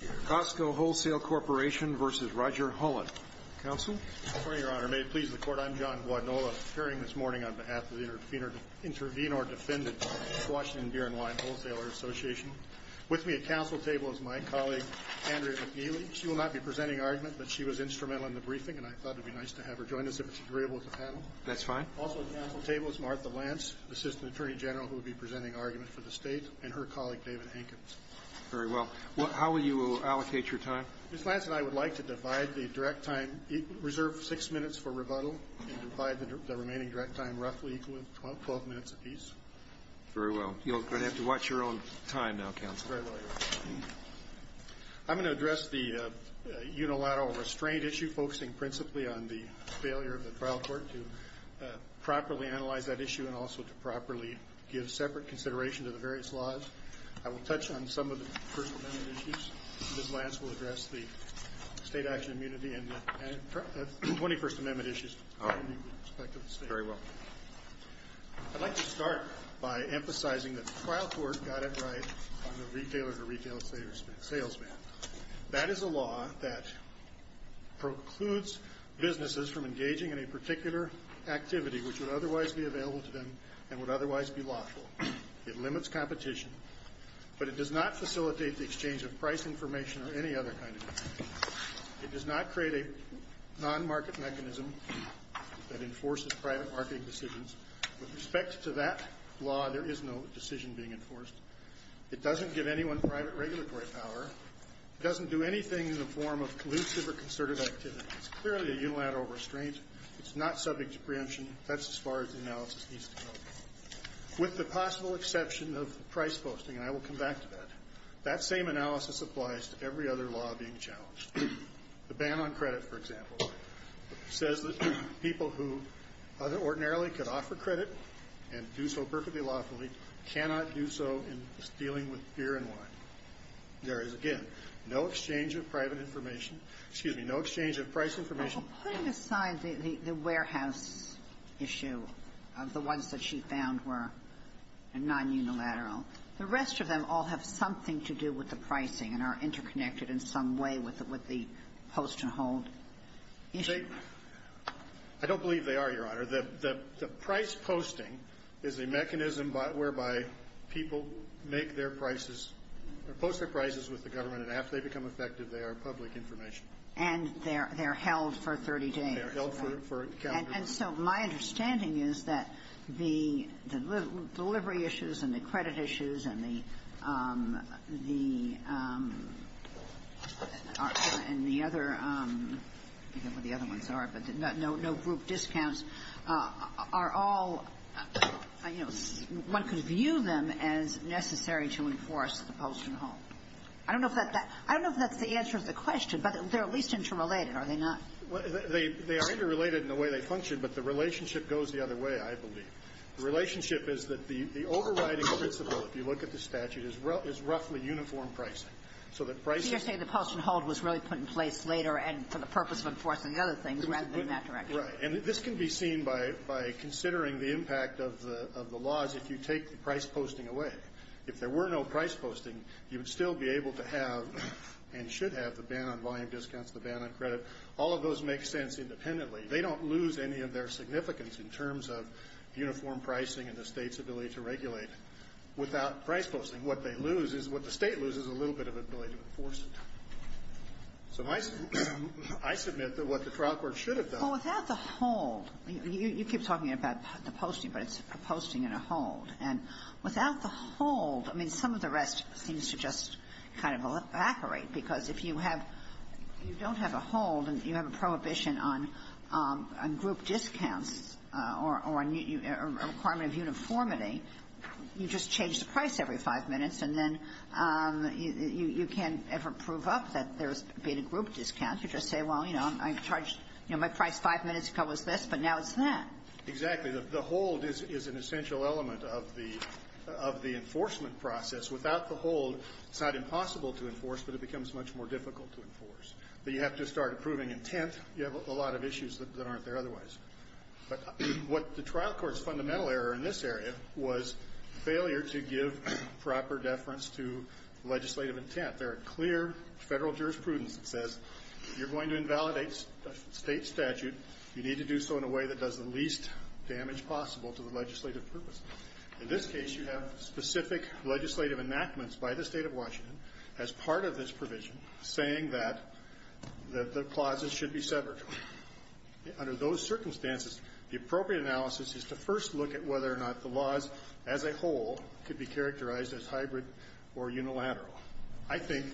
I'm John Wadnola, appearing this morning on behalf of the Intervenor Defendants of the Washington Beer and Wine Wholesaler Association. With me at council table is my colleague, Andrea McNeely. She will not be presenting argument, but she was instrumental in the briefing, and I thought it would be nice to have her join us if she's agreeable with the panel. That's fine. Also at council table is Martha Lance, Assistant Attorney General, who will be presenting argument for the state, and her colleague, David Hankins. Very well. How will you allocate your time? Ms. Lance and I would like to divide the direct time, reserve six minutes for rebuttal, and divide the remaining direct time roughly equal to 12 minutes apiece. Very well. You're going to have to watch your own time now, counsel. Very well, Your Honor. I'm going to address the unilateral restraint issue, focusing principally on the failure of the trial court to properly analyze that issue and also to properly give separate consideration to the various laws. I will touch on some of the First Amendment issues. Ms. Lance will address the State Action Immunity and the 21st Amendment issues from the perspective of the state. Very well. I'd like to start by emphasizing that the trial court got it right on the retailer-to-retailer salesman. That is a law that precludes businesses from engaging in a particular activity which would otherwise be available to them and would otherwise be lawful. It limits competition, but it does not facilitate the exchange of price information or any other kind of information. It does not create a non-market mechanism that enforces private marketing decisions. With respect to that law, there is no decision being enforced. It doesn't give anyone private regulatory power. It doesn't do anything in the form of collusive or concerted activity. It's clearly a unilateral restraint. It's not subject to preemption. That's as far as the analysis needs to go. With the possible exception of the price posting, and I will come back to that, that same analysis applies to every other law being challenged. The ban on credit, for example, says that people who ordinarily could offer credit and do so perfectly lawfully cannot do so in dealing with beer and wine. There is, again, no exchange of private information. Excuse me. No exchange of price information. Well, putting aside the warehouse issue of the ones that she found were non-unilateral, the rest of them all have something to do with the pricing and are interconnected in some way with the post and hold issue. I don't believe they are, Your Honor. The price posting is a mechanism whereby people make their prices or post their prices with the government, and after they become effective, they are public information. And they're held for 30 days. And so my understanding is that the delivery issues and the credit issues and the other ones are, but no group discounts, are all, you know, one could view them as necessary to enforce the post and hold. I don't know if that's the answer to the question, but they're at least interrelated, are they not? They are interrelated in the way they function, but the relationship goes the other way, I believe. The relationship is that the overriding principle, if you look at the statute, is roughly uniform pricing. So the pricing of the post and hold was really put in place later and for the purpose of enforcing the other things rather than in that direction. Right. And this can be seen by considering the impact of the laws if you take the price posting away. If there were no price posting, you would still be able to have and should have the ban on volume discounts, the ban on credit. All of those make sense independently. They don't lose any of their significance in terms of uniform pricing and the state's ability to regulate. Without price posting, what they lose is, what the state loses is a little bit of ability to enforce it. So I submit that what the trial court should have done. Well, without the hold, you keep talking about the posting, but it's a posting and a hold. And without the hold, I mean, some of the rest seems to just kind of evaporate, because if you have you don't have a hold and you have a prohibition on group discounts or a requirement of uniformity, you just change the price every five minutes, and then you can't ever prove up that there's been a group discount. You just say, well, you know, I charged, you know, my price five minutes ago was this, but now it's that. Exactly. The hold is an essential element of the enforcement process. Without the hold, it's not impossible to enforce, but it becomes much more difficult to enforce. You have to start approving intent. You have a lot of issues that aren't there otherwise. But what the trial court's fundamental error in this area was failure to give proper deference to legislative intent. There are clear federal jurisprudence that says you're going to invalidate a state statute. You need to do so in a way that does the least damage possible to the legislative purpose. In this case, you have specific legislative enactments by the State of Washington as part of this provision saying that the clauses should be severed. Under those circumstances, the appropriate analysis is to first look at whether or not the laws as a whole could be characterized as hybrid or unilateral. I think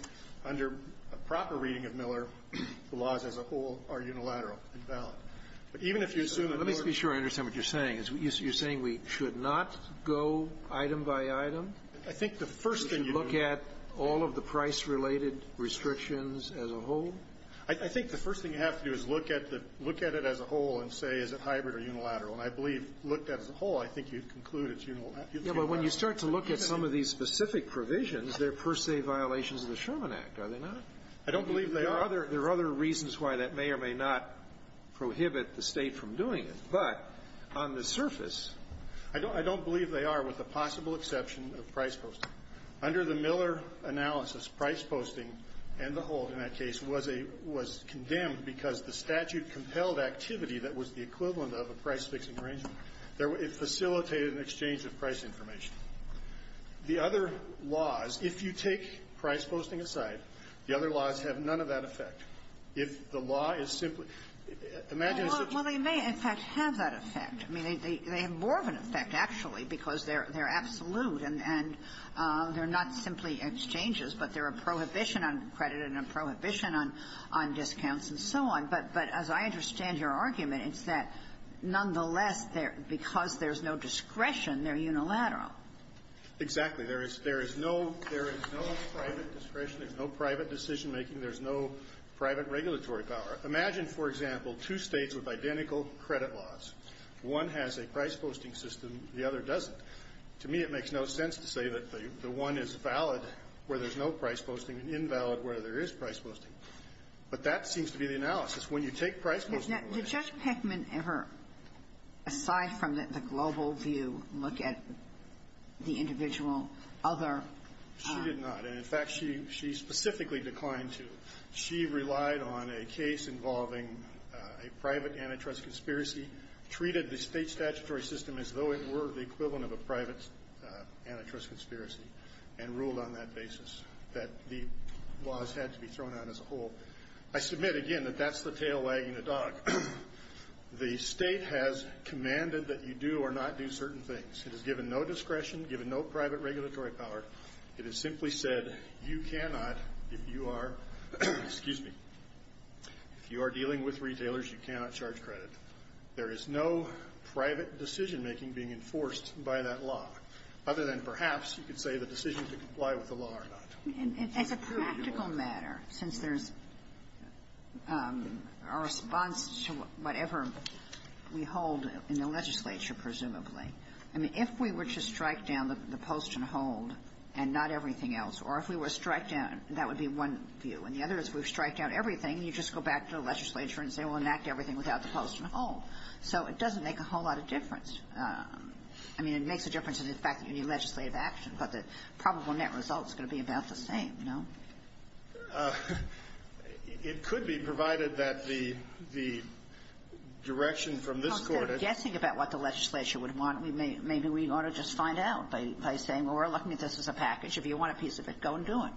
under a proper reading of Miller, the laws as a whole are unilateral and valid. But even if you assume that Miller ---- Let me just be sure I understand what you're saying. You're saying we should not go item by item? I think the first thing you do ---- To look at all of the price-related restrictions as a whole? I think the first thing you have to do is look at the ---- look at it as a whole and say, is it hybrid or unilateral? And I believe, looked at as a whole, I think you'd conclude it's unilateral. Yes, but when you start to look at some of these specific provisions, they're per se violations of the Sherman Act, are they not? I don't believe they are. There are other reasons why that may or may not prohibit the State from doing it. But on the surface ---- I don't believe they are with the possible exception of price posting. Under the Miller analysis, price posting and the hold in that case was a ---- was condemned because the statute compelled activity that was the equivalent of a price fixing arrangement. It facilitated an exchange of price information. The other laws, if you take price posting aside, the other laws have none of that effect. If the law is simply ---- Well, they may, in fact, have that effect. I mean, they have more of an effect, actually, because they're absolute and they're not simply exchanges, but they're a prohibition on credit and a prohibition on discounts and so on. But as I understand your argument, it's that, nonetheless, because there's no discretion, they're unilateral. Exactly. There is no private discretion. There's no private decision-making. There's no private regulatory power. Imagine, for example, two States with identical credit laws. One has a price posting system, the other doesn't. To me, it makes no sense to say that the one is valid where there's no price posting and invalid where there is price posting. But that seems to be the analysis. When you take price posting ---- Did Judge Peckman ever, aside from the global view, look at the individual other ---- She did not. And, in fact, she specifically declined to. She relied on a case involving a private antitrust conspiracy, treated the State statutory system as though it were the equivalent of a private antitrust conspiracy, and ruled on that basis that the laws had to be thrown out as a whole. I submit, again, that that's the tail wagging the dog. The State has commanded that you do or not do certain things. It has given no discretion, given no private regulatory power. It has simply said you cannot, if you are, excuse me, if you are dealing with retailers, you cannot charge credit. There is no private decision-making being enforced by that law. Other than, perhaps, you could say the decision to comply with the law or not. And as a practical matter, since there's a response to whatever we hold in the legislature, presumably, I mean, if we were to strike down the post and hold and not everything else, or if we were to strike down, that would be one view. And the other is if we strike down everything, you just go back to the legislature and say, well, enact everything without the post and hold. So it doesn't make a whole lot of difference. I mean, it makes a difference in the fact that you need legislative action. But the probable net result is going to be about the same, no? It could be, provided that the direction from this Court is — Well, instead of guessing about what the legislature would want, maybe we ought to just find out by saying, well, we're looking at this as a package. If you want a piece of it, go and do it.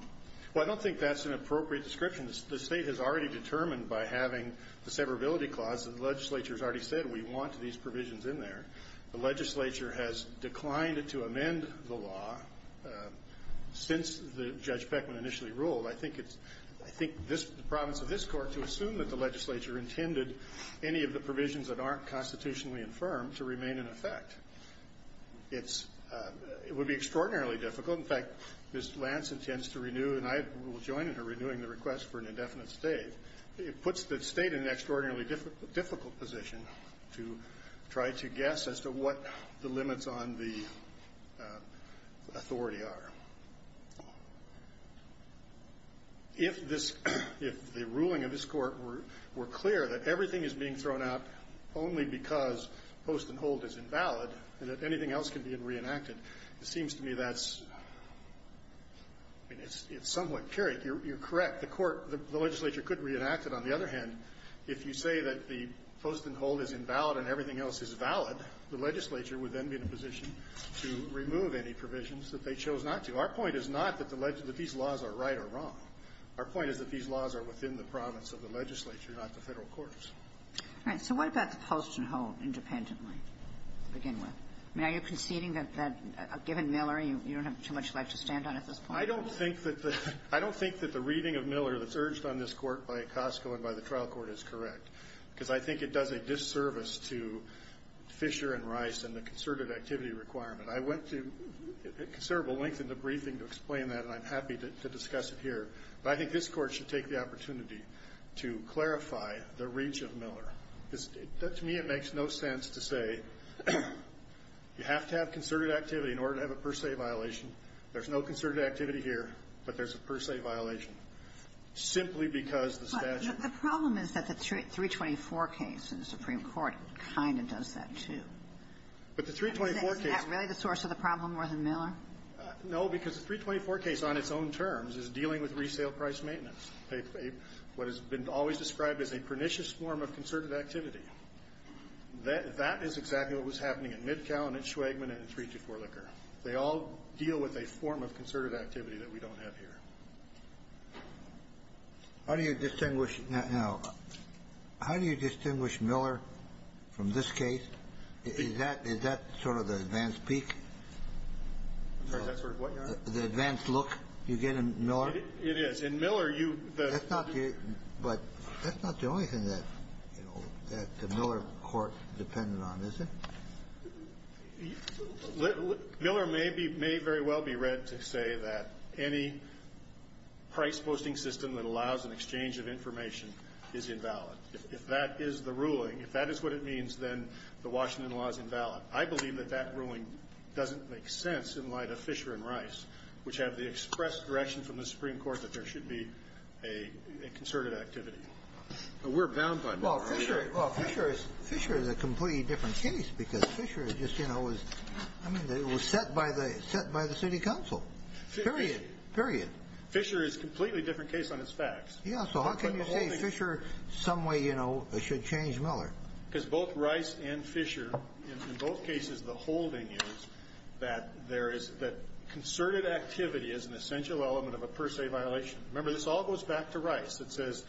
Well, I don't think that's an appropriate description. The State has already determined by having the severability clause that the legislature has already said we want these provisions in there. The legislature has declined to amend the law since Judge Beckman initially ruled. I think it's — I think the province of this Court, to assume that the legislature intended any of the provisions that aren't constitutionally infirmed to remain in effect, it's — it would be extraordinarily difficult. In fact, Ms. Lance intends to renew, and I will join in her renewing the request for an indefinite State. It puts the State in an extraordinarily difficult position to try to guess as to what the limits on the authority are. If this — if the ruling of this Court were clear that everything is being thrown out only because post and hold is invalid and that anything else can be reenacted, it seems to me that's — I mean, it's somewhat curious. You're correct. In fact, the Court — the legislature could reenact it. On the other hand, if you say that the post and hold is invalid and everything else is valid, the legislature would then be in a position to remove any provisions that they chose not to. Our point is not that the — that these laws are right or wrong. Our point is that these laws are within the province of the legislature, not the Federal courts. All right. So what about the post and hold independently, to begin with? I mean, are you conceding that, given Miller, you don't have too much left to stand on at this point? I don't think that the — I don't think that the reading of Miller that's urged on this Court by Ocosco and by the trial court is correct, because I think it does a disservice to Fisher and Rice and the concerted activity requirement. I went to considerable length in the briefing to explain that, and I'm happy to discuss it here. But I think this Court should take the opportunity to clarify the reach of Miller. To me, it makes no sense to say you have to have concerted activity in order to have a per se violation. There's no concerted activity here, but there's a per se violation, simply because the statute — But the problem is that the 324 case in the Supreme Court kind of does that, too. But the 324 case — Is that really the source of the problem more than Miller? No, because the 324 case on its own terms is dealing with resale price maintenance, what has been always described as a pernicious form of concerted activity. That is exactly what was happening in Midcow and in Schwegman and in 324 Licker. They all deal with a form of concerted activity that we don't have here. How do you distinguish — now, how do you distinguish Miller from this case? Is that sort of the advanced peak? I'm sorry, is that sort of what, Your Honor? The advanced look you get in Miller? It is. In Miller, you — That's not the — but that's not the only thing that, you know, that the Miller Court depended on, is it? Miller may be — may very well be read to say that any price-posting system that allows an exchange of information is invalid. If that is the ruling, if that is what it means, then the Washington law is invalid. I believe that that ruling doesn't make sense in light of Fisher and Rice, which have the express direction from the Supreme Court that there should be a concerted activity. We're bound by Miller. Well, Fisher is a completely different case because Fisher just, you know, was — I mean, it was set by the City Council. Period. Period. Fisher is a completely different case on its facts. Yeah, so how can you say Fisher some way, you know, should change Miller? Because both Rice and Fisher, in both cases, the holding is that there is — that concerted activity is an essential element of a per se violation. Remember, this all goes back to Rice. It says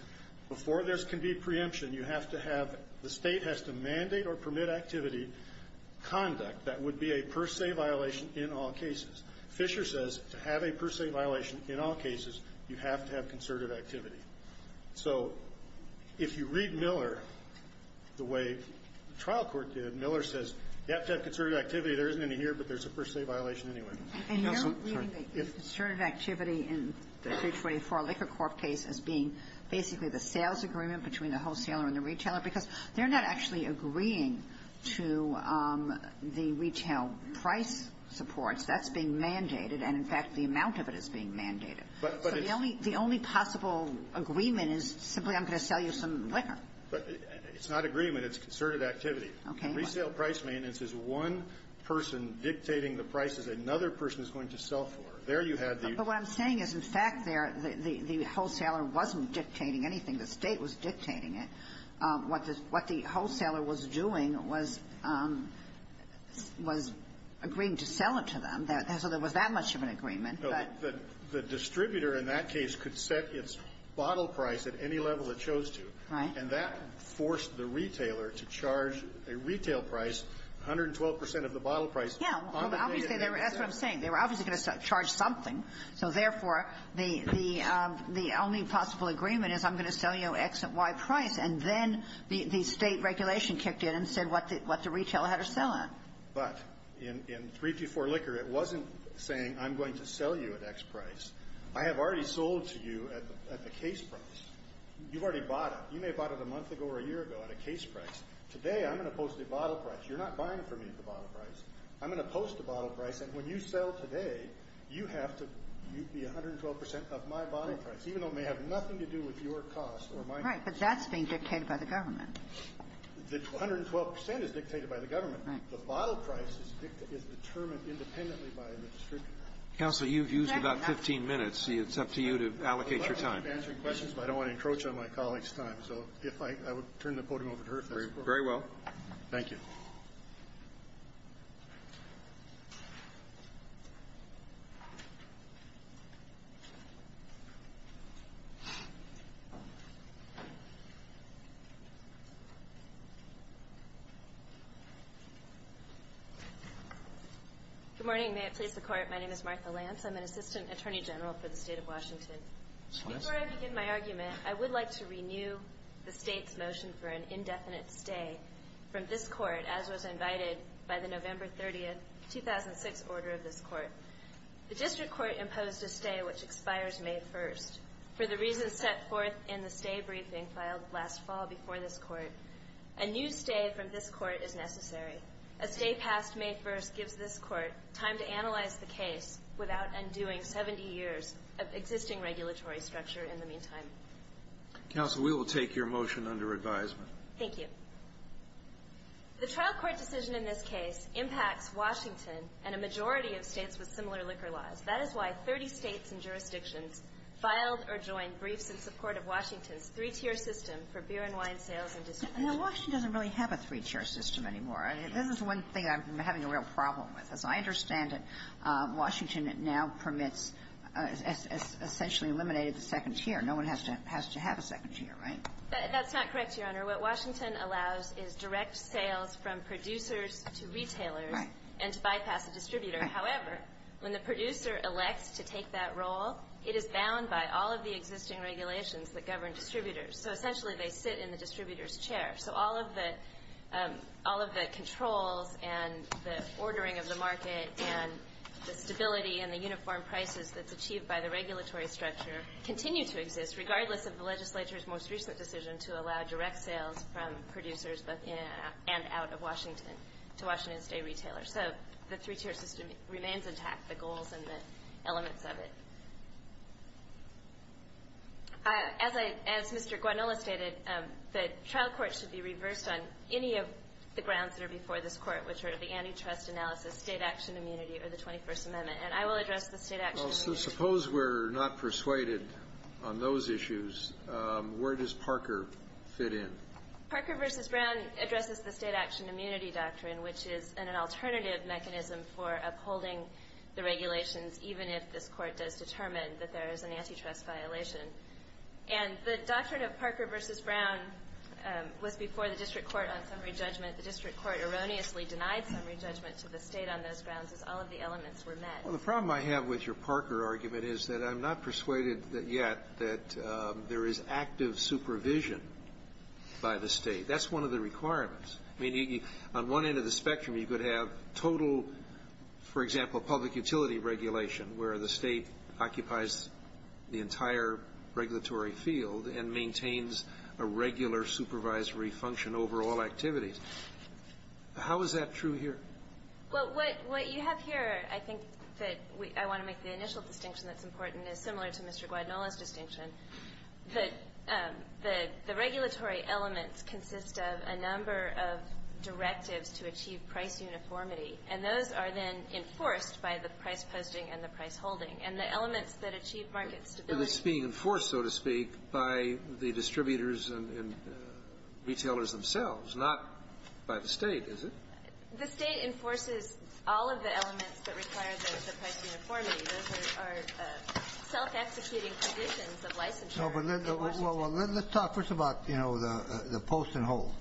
before there can be preemption, you have to have — the State has to mandate or permit activity, conduct that would be a per se violation in all cases. Fisher says to have a per se violation in all cases, you have to have concerted activity. So if you read Miller the way the trial court did, Miller says you have to have concerted activity, there isn't any here, but there's a per se violation anyway. And you're reading the concerted activity in the 324 Liquor Corp. case as being basically the sales agreement between the wholesaler and the retailer because they're not actually agreeing to the retail price supports. That's being mandated. And, in fact, the amount of it is being mandated. So the only — the only possible agreement is simply I'm going to sell you some liquor. But it's not agreement. It's concerted activity. Okay. So the retail price maintenance is one person dictating the prices another person is going to sell for. There you have the — But what I'm saying is, in fact, there, the wholesaler wasn't dictating anything. The State was dictating it. What the wholesaler was doing was agreeing to sell it to them. So there was that much of an agreement, but — No. The distributor in that case could set its bottle price at any level it chose to. Right. And that forced the retailer to charge a retail price, 112 percent of the bottle price. Yeah. Obviously, that's what I'm saying. They were obviously going to charge something. So, therefore, the only possible agreement is I'm going to sell you X at Y price. And then the State regulation kicked in and said what the retailer had to sell it. But in 324 Liquor, it wasn't saying I'm going to sell you at X price. I have already sold to you at the case price. You've already bought it. You may have bought it a month ago or a year ago at a case price. Today, I'm going to post the bottle price. You're not buying from me at the bottle price. I'm going to post the bottle price. And when you sell today, you have to be 112 percent of my bottle price, even though it may have nothing to do with your cost or my cost. Right. But that's being dictated by the government. The 112 percent is dictated by the government. Right. The bottle price is determined independently by the distributor. Counsel, you've used about 15 minutes. It's up to you to allocate your time. I appreciate you answering questions, but I don't want to encroach on my colleague's time. So if I would turn the podium over to her. Very well. Thank you. Good morning. May it please the Court, my name is Martha Lance. I'm an Assistant Attorney General for the State of Washington. Before I begin my argument, I would like to renew the State's motion for an indefinite stay from this Court, as was invited by the November 30, 2006, order of this Court. The District Court imposed a stay which expires May 1st. For the reasons set forth in the stay briefing filed last fall before this Court, a new stay from this Court is necessary. A stay past May 1st gives this Court time to analyze the case without undoing 70 years of existing regulatory structure in the meantime. Counsel, we will take your motion under advisement. Thank you. The trial court decision in this case impacts Washington and a majority of States with similar liquor laws. That is why 30 States and jurisdictions filed or joined briefs in support of Washington's three-tier system for beer and wine sales and distribution. Now, Washington doesn't really have a three-tier system anymore. This is one thing I'm having a real problem with. As I understand it, Washington now permits essentially eliminated the second tier. No one has to have a second tier, right? That's not correct, Your Honor. What Washington allows is direct sales from producers to retailers and to bypass a distributor. However, when the producer elects to take that role, it is bound by all of the existing regulations that govern distributors. So essentially, they sit in the distributor's chair. So all of the controls and the ordering of the market and the stability and the uniform prices that's achieved by the regulatory structure continue to exist, regardless of the legislature's most recent decision to allow direct sales from producers and out of Washington to Washington's day retailers. So the three-tier system remains intact, the goals and the elements of it. As Mr. Guanola stated, the trial court should be reversed on any of the grounds that are before this Court, which are the antitrust analysis, state action immunity, or the 21st Amendment. And I will address the state action immunity. Well, so suppose we're not persuaded on those issues. Where does Parker fit in? Parker v. Brown addresses the state action immunity doctrine, which is an alternative mechanism for upholding the regulations, even if this Court does determine that there is an antitrust violation. And the doctrine of Parker v. Brown was before the district court on summary judgment. The district court erroneously denied summary judgment to the state on those grounds as all of the elements were met. Well, the problem I have with your Parker argument is that I'm not persuaded yet that there is active supervision by the state. That's one of the requirements. I mean, on one end of the spectrum, you could have total, for example, public utility regulation, where the state occupies the entire regulatory field and maintains a regular supervisory function over all activities. How is that true here? Well, what you have here, I think, that I want to make the initial distinction that's important is similar to Mr. Guanola's distinction, that the regulatory elements consist of a number of directives to achieve price uniformity. And those are then enforced by the price posting and the price holding. And the elements that achieve market stability are the same. But it's being enforced, so to speak, by the distributors and retailers themselves, not by the state, is it? The state enforces all of the elements that require the price uniformity. Those are self-executing conditions of licensure in Washington. Let's talk first about the post and hold,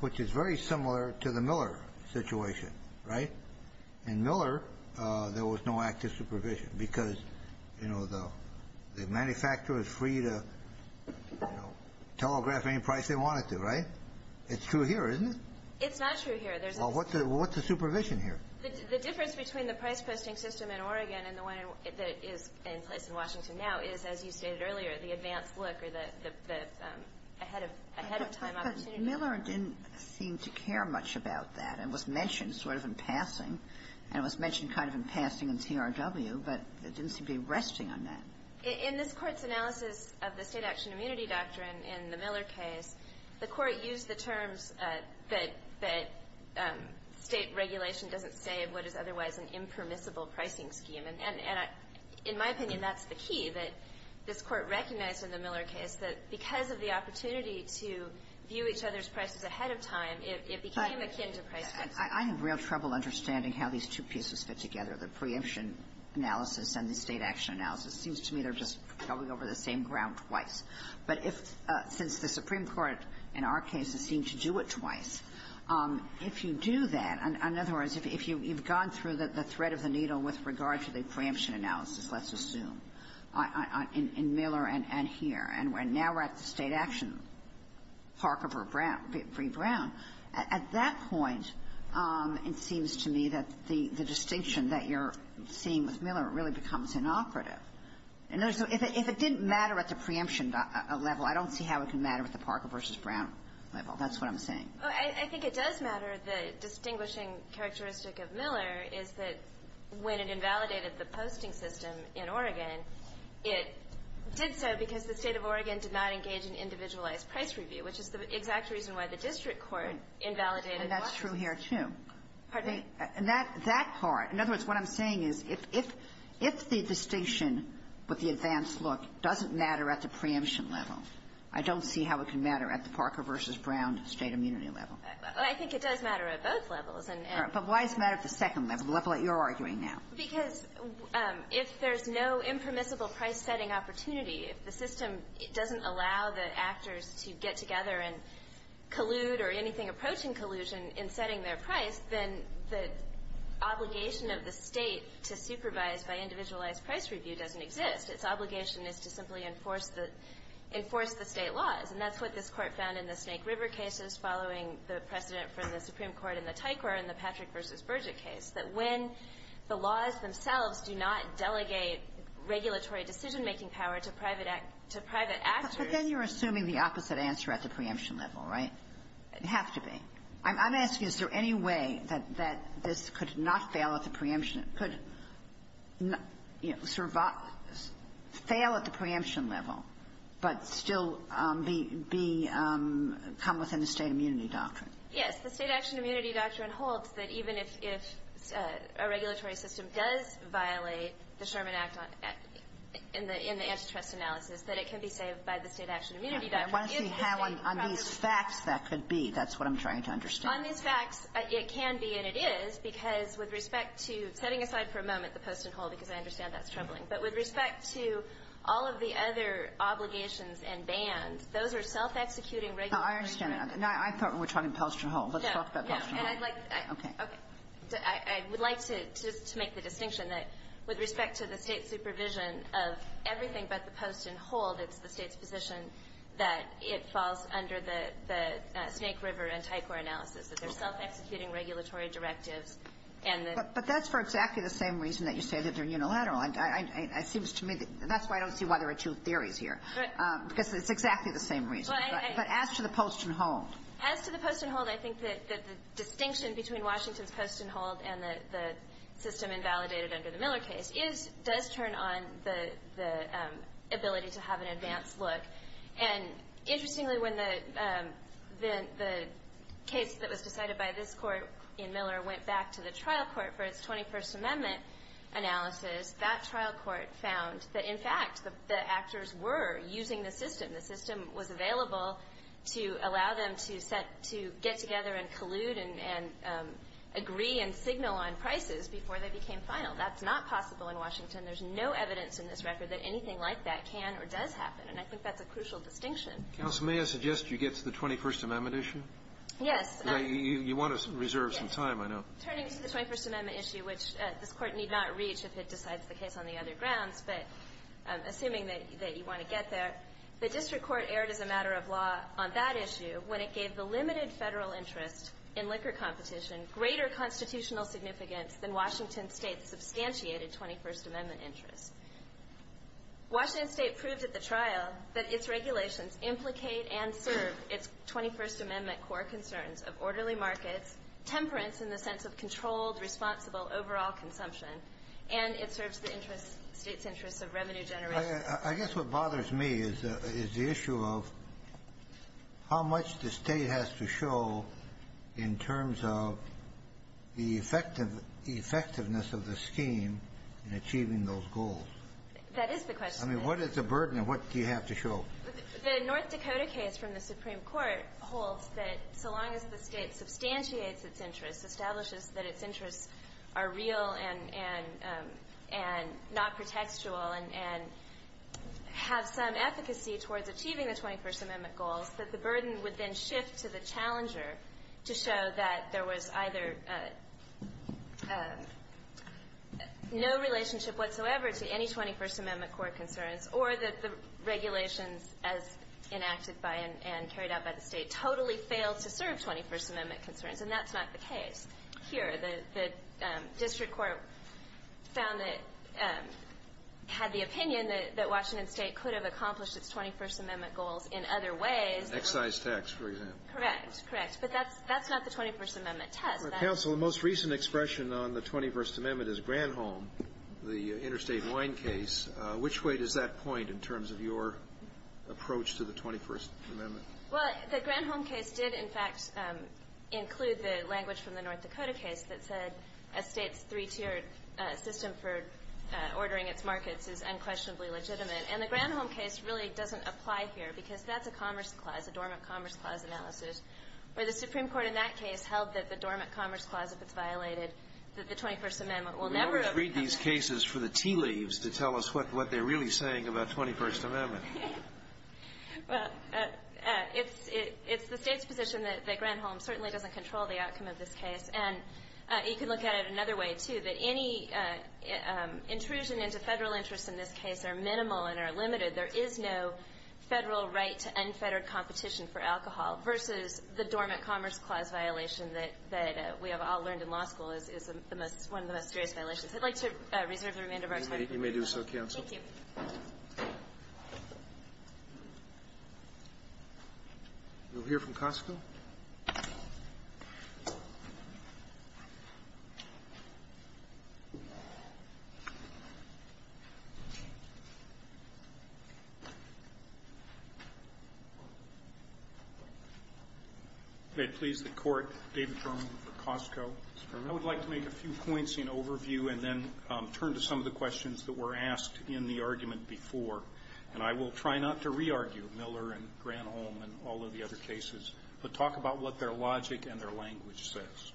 which is very similar to the Miller situation. In Miller, there was no active supervision because the manufacturer was free to telegraph any price they wanted to, right? It's true here, isn't it? It's not true here. Well, what's the supervision here? The difference between the price posting system in Oregon and the one that is in place in Washington now is, as you stated earlier, the advanced look or the ahead-of-time opportunity. But Miller didn't seem to care much about that. It was mentioned sort of in passing, and it was mentioned kind of in passing in TRW, but it didn't seem to be resting on that. In this Court's analysis of the state action immunity doctrine in the Miller case, the Court used the terms that state regulation doesn't save what is otherwise an impermissible pricing scheme. And in my opinion, that's the key that this Court recognized in the Miller case, that because of the opportunity to view each other's prices ahead of time, it became akin to pricing. I have real trouble understanding how these two pieces fit together, the preemption analysis and the state action analysis. It seems to me they're just going over the same ground twice. But if, since the Supreme Court in our case has seemed to do it twice, if you do that in other words, if you've gone through the thread of the needle with regard to the preemption analysis, let's assume, in Miller and here, and now we're at the state action, Parker v. Brown, at that point, it seems to me that the distinction that you're seeing with Miller really becomes inoperative. And so if it didn't matter at the preemption level, I don't see how it can matter at the Parker v. Brown level. That's what I'm saying. Well, I think it does matter. The distinguishing characteristic of Miller is that when it invalidated the posting system in Oregon, it did so because the State of Oregon did not engage in individualized price review, which is the exact reason why the district court invalidated Boston. And that's true here, too. Pardon me? That part. In other words, what I'm saying is if the distinction with the advanced look doesn't matter at the preemption level, I don't see how it can matter at the preemption level. Well, I think it does matter at both levels. But why does it matter at the second level, the level that you're arguing now? Because if there's no impermissible price-setting opportunity, if the system doesn't allow the actors to get together and collude or anything approaching collusion in setting their price, then the obligation of the State to supervise by individualized price review doesn't exist. Its obligation is to simply enforce the State laws. And that's what this Court found in the Snake River cases following the precedent from the Supreme Court in the Tycor in the Patrick v. Burgett case, that when the laws themselves do not delegate regulatory decision-making power to private actors But then you're assuming the opposite answer at the preemption level, right? It'd have to be. I'm asking, is there any way that this could not fail at the preemption level, could, you know, survive, fail at the preemption level, but still be, you know, be, come within the State immunity doctrine? Yes. The State action immunity doctrine holds that even if a regulatory system does violate the Sherman Act in the antitrust analysis, that it can be saved by the State action immunity doctrine. I want to see how on these facts that could be. That's what I'm trying to understand. On these facts, it can be and it is because with respect to, setting aside for a moment the Post and Hull, because I understand that's troubling, but with respect to all of the other obligations and bans, those are self-executing regulatory directives. No, I understand. I thought we were talking Post and Hull. Let's talk about Post and Hull. No, no. And I'd like to make the distinction that with respect to the State supervision of everything but the Post and Hull, that it's the State's position that it falls under the Snake River and Tycor analysis, that they're self-executing regulatory directives. But that's for exactly the same reason that you say that they're unilateral. And it seems to me that's why I don't see why there are two theories here. Right. Because it's exactly the same reason. But as to the Post and Hull. As to the Post and Hull, I think that the distinction between Washington's Post and Hull and the system invalidated under the Miller case is, does turn on the ability to have an advanced look. And interestingly, when the case that was decided by this Court in Miller went back to the trial court for its 21st Amendment analysis, that trial court found that, in fact, the actors were using the system. The system was available to allow them to get together and collude and agree and signal on prices before they became final. That's not possible in Washington. There's no evidence in this record that anything like that can or does happen. And I think that's a crucial distinction. Counsel, may I suggest you get to the 21st Amendment issue? Yes. You want to reserve some time, I know. Turning to the 21st Amendment issue, which this Court need not reach if it decides the case on the other grounds, but assuming that you want to get there, the district court erred as a matter of law on that issue when it gave the limited Federal interest in liquor competition greater constitutional significance than Washington State's substantiated 21st Amendment interest. Washington State proved at the trial that its regulations implicate and serve its 21st Amendment core concerns of orderly markets, temperance in the sense of controlled, responsible overall consumption, and it serves the interest, State's interest of revenue generation. I guess what bothers me is the issue of how much the State has to show in terms of the effectiveness of the scheme in achieving those goals. That is the question. I mean, what is the burden and what do you have to show? The North Dakota case from the Supreme Court holds that so long as the State substantiates its interest, establishes that its interests are real and not pretextual, and has some efficacy towards achieving the 21st Amendment goals, that the burden would then shift to the challenger to show that there was either no relationship whatsoever to any 21st Amendment core concerns or that the regulations as enacted by and carried out by the State totally failed to serve 21st Amendment concerns. And that's not the case here. The district court found that, had the opinion that Washington State could have accomplished its 21st Amendment goals in other ways. Excise tax, for example. Correct. Correct. But that's not the 21st Amendment test. Counsel, the most recent expression on the 21st Amendment is Granholm, the interstate wine case. Which way does that point in terms of your approach to the 21st Amendment? Well, the Granholm case did, in fact, include the language from the North Dakota case that said a State's three-tiered system for ordering its markets is unquestionably legitimate. And the Granholm case really doesn't apply here because that's a Commerce Clause, a Dormant Commerce Clause analysis, where the Supreme Court in that case held that the Dormant Commerce Clause, if it's violated, that the 21st Amendment will never work. I can't read these cases for the tea leaves to tell us what they're really saying about 21st Amendment. Well, it's the State's position that Granholm certainly doesn't control the outcome of this case. And you can look at it another way, too, that any intrusion into Federal interests in this case are minimal and are limited. There is no Federal right to unfettered competition for alcohol versus the Dormant Commerce Clause violation that we have all learned in law school is one of the most serious violations. I'd like to reserve the remainder of our time. Roberts. You may do so, counsel. Thank you. We'll hear from Costco. May it please the Court, David Drummond for Costco. I would like to make a few points in overview and then turn to some of the questions that were asked in the argument before. And I will try not to re-argue Miller and Granholm and all of the other cases, but talk about what their logic and their language says.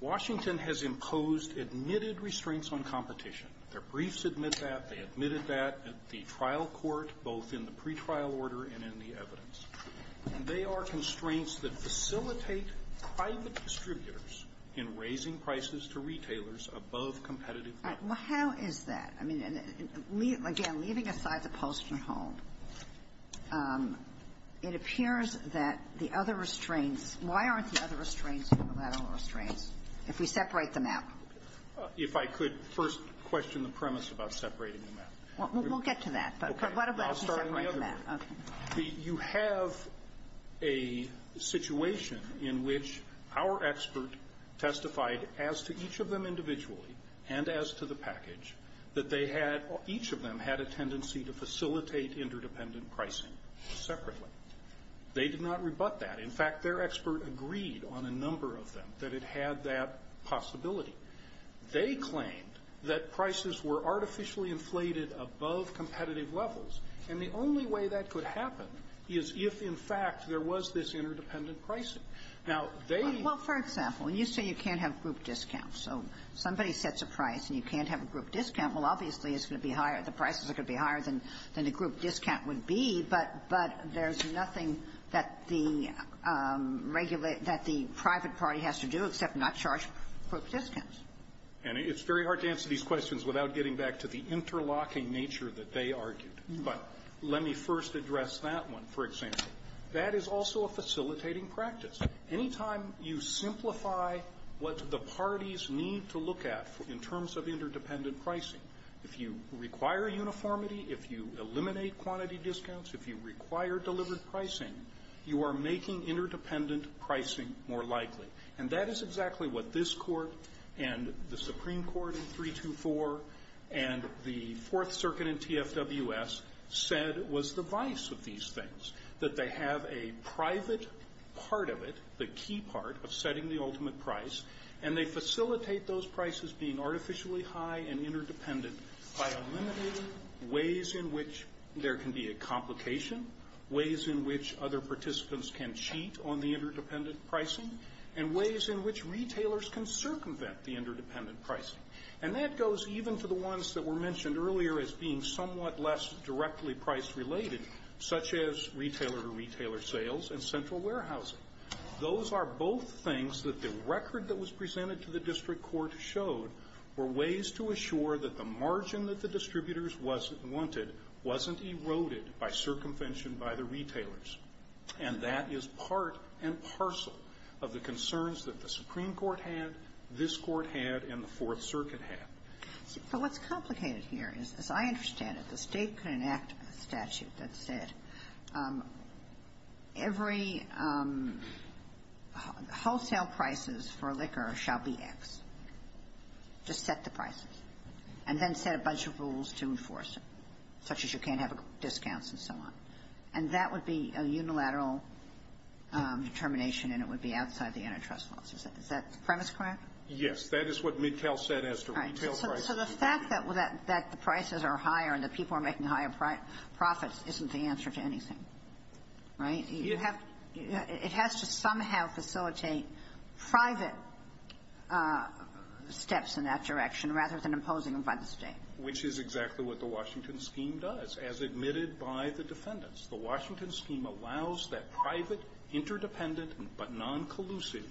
Washington has imposed admitted restraints on competition. Their briefs admit that. They admitted that at the trial court, both in the pretrial order and in the evidence. And they are constraints that facilitate private distributors in raising prices to retailers above competitive value. All right. Well, how is that? I mean, again, leaving aside the Postman-Holm, it appears that the other restraints why aren't the other restraints unilateral restraints if we separate them out? If I could first question the premise about separating them out. Well, we'll get to that. But what about separating them out? Okay. I'll start on the other. Okay. You have a situation in which our expert testified as to each of them individually and as to the package that they had or each of them had a tendency to facilitate interdependent pricing separately. They did not rebut that. In fact, their expert agreed on a number of them that it had that possibility. They claimed that prices were artificially inflated above competitive levels, and the only way that could happen is if, in fact, there was this interdependent pricing. Now, they ---- Well, for example, when you say you can't have group discounts, so somebody sets a price and you can't have a group discount, well, obviously it's going to be higher the prices are going to be higher than the group discount would be, but there's nothing that the private party has to do except not charge group discounts. And it's very hard to answer these questions without getting back to the interlocking nature that they argued. But let me first address that one, for example. That is also a facilitating practice. Anytime you simplify what the parties need to look at in terms of interdependent pricing, if you require uniformity, if you eliminate quantity discounts, if you require delivered pricing, you are making interdependent pricing more likely. And that is exactly what this Court and the Supreme Court in 324 and the Fourth Amendment do. They have a private part of it, the key part of setting the ultimate price, and they facilitate those prices being artificially high and interdependent by eliminating ways in which there can be a complication, ways in which other participants can cheat on the interdependent pricing, and ways in which retailers can circumvent the interdependent pricing. And that goes even to the ones that were mentioned earlier as being somewhat less directly price-related, such as retailer-to-retailer sales and central warehousing. Those are both things that the record that was presented to the district court showed were ways to assure that the margin that the distributors wanted wasn't eroded by circumvention by the retailers. And that is part and parcel of the concerns that the Supreme Court had, this Court had, and the Fourth Circuit had. But what's complicated here is, as I understand it, the State could enact a statute that said every wholesale prices for liquor shall be X. Just set the prices. And then set a bunch of rules to enforce it, such as you can't have discounts and so on. And that would be a unilateral determination, and it would be outside the antitrust laws. Is that premise correct? Yes. That is what Midtel said as to retail prices. So the fact that the prices are higher and the people are making higher profits isn't the answer to anything, right? It has to somehow facilitate private steps in that direction, rather than imposing them by the State. Which is exactly what the Washington scheme does, as admitted by the defendants. The Washington scheme allows that private, interdependent, but noncollusive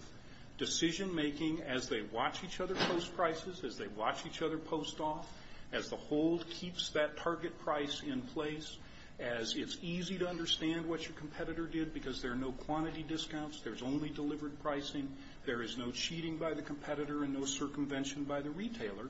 decision-making as they watch each other post prices, as they watch each other post off, as the hold keeps that target price in place, as it's easy to understand what your competitor did because there are no quantity discounts, there's only delivered pricing, there is no cheating by the competitor and no circumvention by the retailer,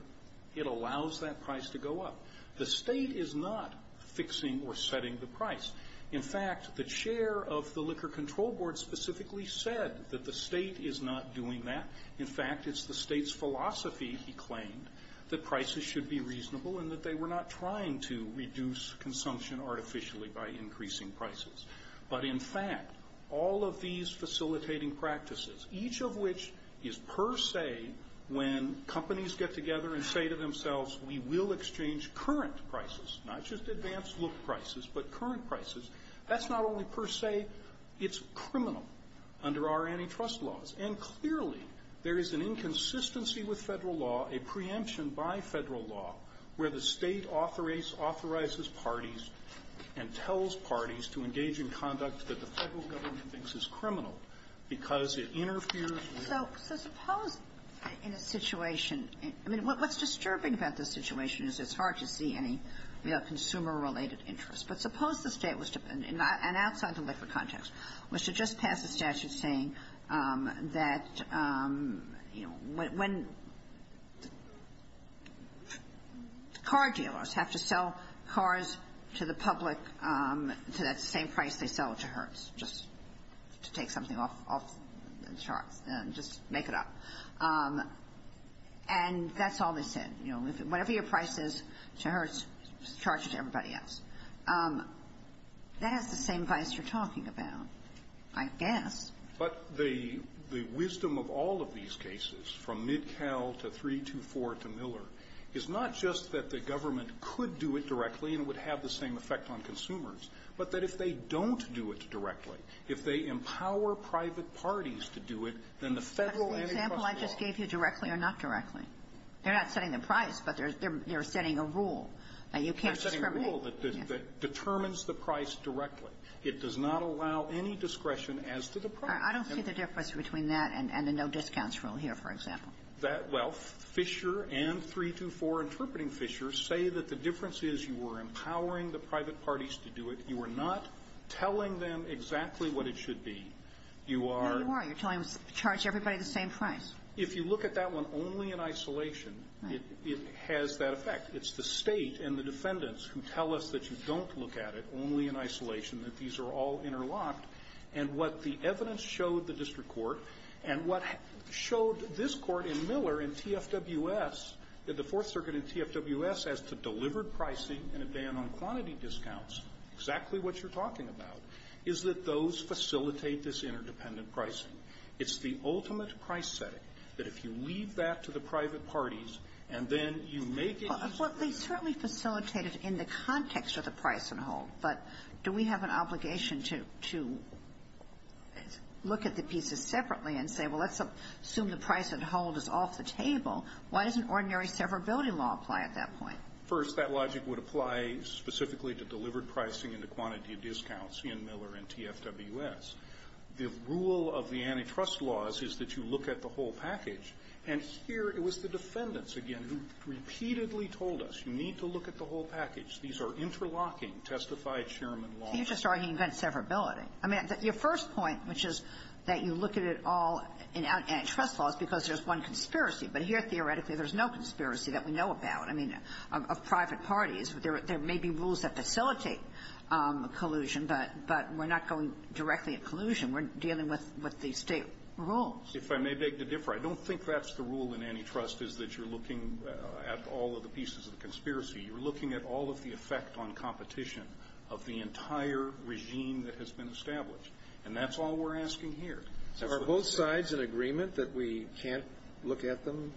it allows that price to go up. The State is not fixing or setting the price. In fact, the chair of the Liquor Control Board specifically said that the State is not doing that. In fact, it's the State's philosophy, he claimed, that prices should be reasonable and that they were not trying to reduce consumption artificially by increasing prices. But in fact, all of these facilitating practices, each of which is per se when companies get together and say to themselves, we will exchange current prices, not just advanced look prices, but current prices, that's not only per se, it's criminal under our antitrust laws. And clearly, there is an inconsistency with Federal law, a preemption by Federal law, where the State authorizes parties and tells parties to engage in conduct that the Federal government thinks is criminal because it interferes with the law. So suppose in a situation, I mean, what's disturbing about this situation is it's hard to see any consumer-related interest. But suppose the State was to, and outside the liquor context, was to just pass a statute saying that, you know, when car dealers have to sell cars to the public to that same price they sell it to Hertz, just to take something off the charts and just make it up. And that's all they said. You know, whatever your price is to Hertz, charge it to everybody else. That has the same vice you're talking about, I guess. But the wisdom of all of these cases, from MidCal to 324 to Miller, is not just that the government could do it directly and it would have the same effect on consumers, but that if they don't do it directly, if they empower private parties to do it, then the Federal antitrust law --- Kagan. Is the example I just gave you directly or not directly? They're not setting the price, but they're setting a rule that you can't discriminate. It's not setting a rule that determines the price directly. It does not allow any discretion as to the price. I don't see the difference between that and the no-discounts rule here, for example. Well, Fisher and 324, interpreting Fisher, say that the difference is you were empowering the private parties to do it. You were not telling them exactly what it should be. No, you are. You're telling them to charge everybody the same price. If you look at that one only in isolation, it has that effect. It's the State and the defendants who tell us that you don't look at it only in isolation, that these are all interlocked. And what the evidence showed the district court and what showed this Court in Miller and TFWS, the Fourth Circuit and TFWS, as to delivered pricing and a ban on quantity discounts, exactly what you're talking about, is that those facilitate this interdependent pricing. It's the ultimate price setting that if you leave that to the private parties and then you make it as a rule. Well, they certainly facilitate it in the context of the price and hold. But do we have an obligation to look at the pieces separately and say, well, let's assume the price and hold is off the table. Why doesn't ordinary severability law apply at that point? First, that logic would apply specifically to delivered pricing and the quantity of discounts in Miller and TFWS. The rule of the antitrust laws is that you look at the whole package. And here, it was the defendants, again, who repeatedly told us, you need to look at the whole package. These are interlocking, testified-chairman laws. Kagan. There may be rules that facilitate collusion, but we're not going directly at collusion. We're dealing with the state rules. If I may beg to differ, I don't think that's the rule in antitrust, is that you're looking at all of the pieces of the conspiracy. You're looking at all of the effect on competition of the entire regime that has been established. And that's all we're asking here. Are both sides in agreement that we can't look at them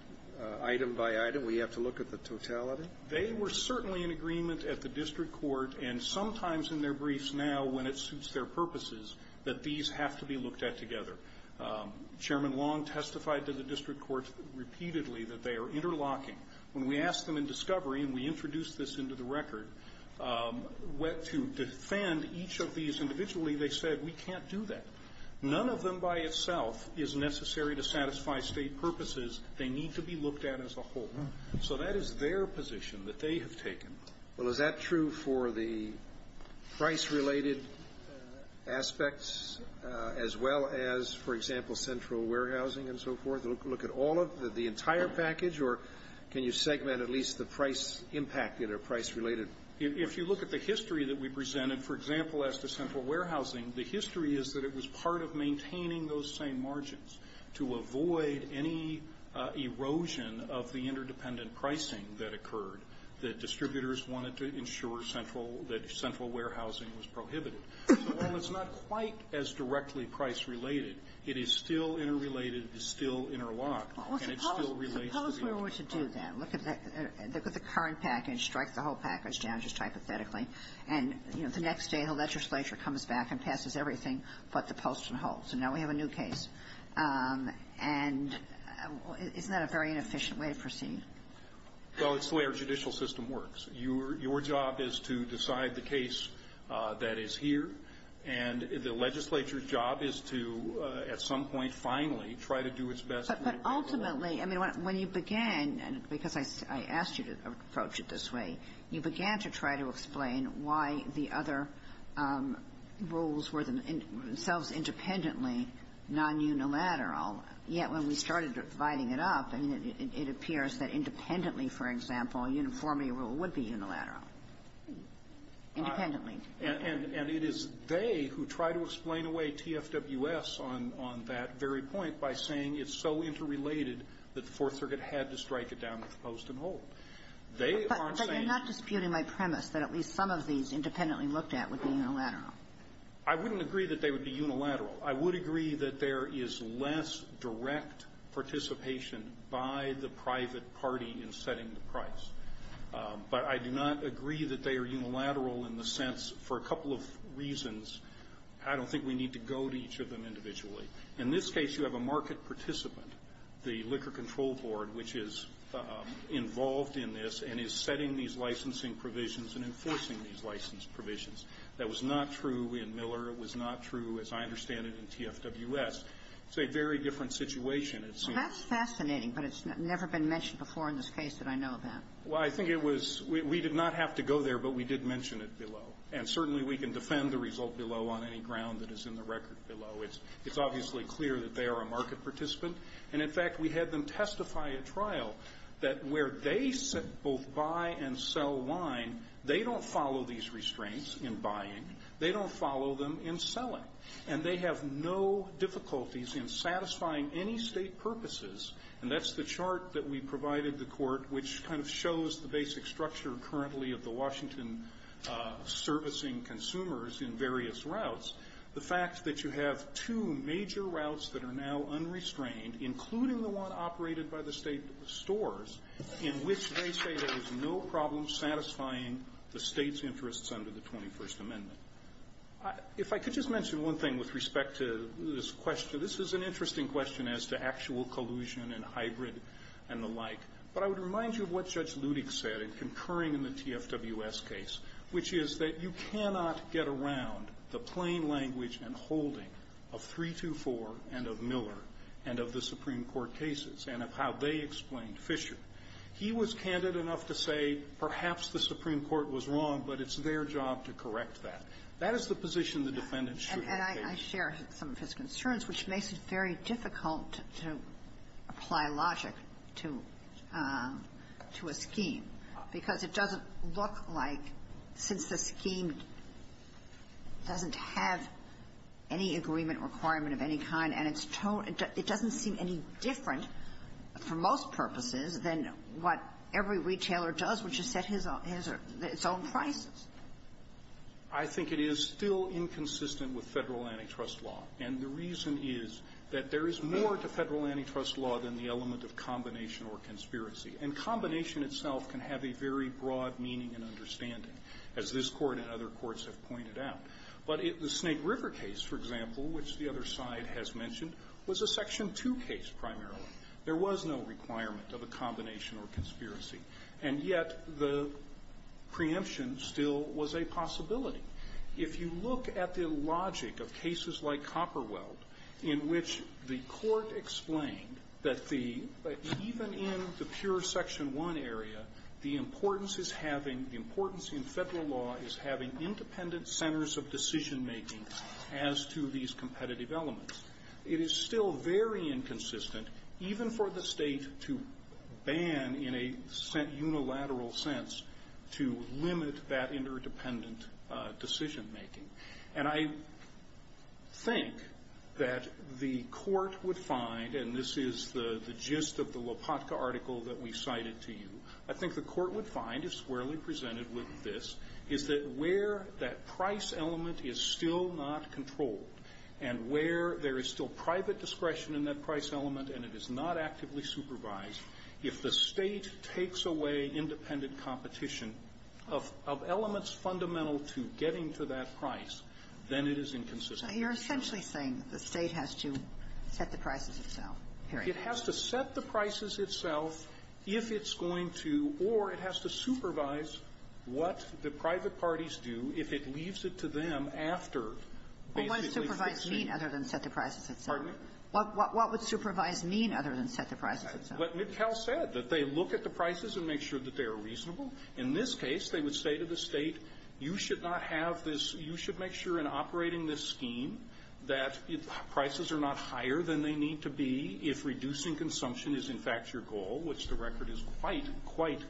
item by item? We have to look at the totality? They were certainly in agreement at the district court, and sometimes in their briefs now, when it suits their purposes, that these have to be looked at together. Chairman Long testified to the district court repeatedly that they are interlocking. When we asked them in discovery, and we introduced this into the record, to defend each of these individually, they said, we can't do that. None of them by itself is necessary to satisfy state purposes. They need to be looked at as a whole. So that is their position that they have taken. Well, is that true for the price-related aspects, as well as, for example, central warehousing and so forth? Look at all of the entire package, or can you segment at least the price impacted or price-related? If you look at the history that we presented, for example, as to central warehousing, the history is that it was part of maintaining those same margins to avoid any erosion of the interdependent pricing that occurred, that distributors wanted to ensure central, that central warehousing was prohibited. So while it's not quite as directly price-related, it is still interrelated, it is still interlocked, and it still relates to the other part. Suppose we were to do that. Look at the current package, strike the whole package down just hypothetically, and, you know, the next day the legislature comes back and passes everything but the post and hold. So now we have a new case. And isn't that a very inefficient way to proceed? Well, it's the way our judicial system works. Your job is to decide the case that is here, and the legislature's job is to at some point finally try to do its best. But ultimately, I mean, when you began, and because I asked you to approach it this way, you began to try to explain why the other rules were themselves independently non-unilateral, yet when we started dividing it up, I mean, it appears that independently, for example, uniformity rule would be unilateral. Independently. And it is they who try to explain away TFWS on that very point by saying it's so interrelated that the Fourth Circuit had to strike it down with the post and hold. They aren't saying that. But you're not disputing my premise that at least some of these independently looked at would be unilateral. I wouldn't agree that they would be unilateral. I would agree that there is less direct participation by the private party in setting the price. But I do not agree that they are unilateral in the sense, for a couple of reasons, I don't think we need to go to each of them individually. In this case, you have a market participant, the Liquor Control Board, which is involved in this and is setting these licensing provisions and enforcing these license provisions. That was not true in Miller. It was not true, as I understand it, in TFWS. It's a very different situation, it seems. So that's fascinating, but it's never been mentioned before in this case that I know of that. Well, I think it was we did not have to go there, but we did mention it below. And certainly we can defend the result below on any ground that is in the record below. It's obviously clear that they are a market participant. And in fact, we had them testify at trial that where they both buy and sell wine, they don't follow these restraints in buying. They don't follow them in selling. And they have no difficulties in satisfying any State purposes. And that's the chart that we provided the Court, which kind of shows the basic structure currently of the Washington servicing consumers in various routes. The fact that you have two major routes that are now unrestrained, including the one operated by the State stores, in which they say there is no problem satisfying the State's interests under the 21st Amendment. If I could just mention one thing with respect to this question. This is an interesting question as to actual collusion and hybrid and the like. But I would remind you of what Judge Ludek said in concurring in the TFWS case, which is that you cannot get around the plain language and holding of 324 and of Miller and of the Supreme Court cases and of how they explained Fisher. He was candid enough to say perhaps the Supreme Court was wrong, but it's their job to correct that. That is the position the defendant should have taken. Kagan. And I share some of his concerns, which makes it very difficult to apply logic to a scheme, because it doesn't look like, since the scheme doesn't have any agreement requirement of any kind and its tone, it doesn't seem any different for most purposes than what every retailer does, which is set his own prices. I think it is still inconsistent with Federal antitrust law. And the reason is that there is more to Federal antitrust law than the element of combination or conspiracy. And combination itself can have a very broad meaning and understanding, as this Court and other courts have pointed out. But the Snake River case, for example, which the other side has mentioned, was a Section 2 case primarily. There was no requirement of a combination or conspiracy. And yet the preemption still was a possibility. If you look at the logic of cases like Copperweld, in which the Court explained that the even in the pure Section 1 area, the importance is having, the importance of decision-making as to these competitive elements. It is still very inconsistent, even for the State to ban in a unilateral sense, to limit that interdependent decision-making. And I think that the Court would find, and this is the gist of the Lopatka article that we cited to you, I think the Court would find, as squarely presented with this, is that where that price element is still not controlled, and where there is still private discretion in that price element and it is not actively supervised, if the State takes away independent competition of elements fundamental to getting to that price, then it is inconsistent. So you're essentially saying the State has to set the prices itself, period. It has to set the prices itself if it's going to, or it has to supervise what the private parties do if it leaves it to them after basically fixing it. Kagan. What would supervise mean other than set the prices itself? Pardon me? What would supervise mean other than set the prices itself? What Midcow said, that they look at the prices and make sure that they are reasonable. In this case, they would say to the State, you should not have this, you should make sure in operating this scheme that prices are not higher than they need to be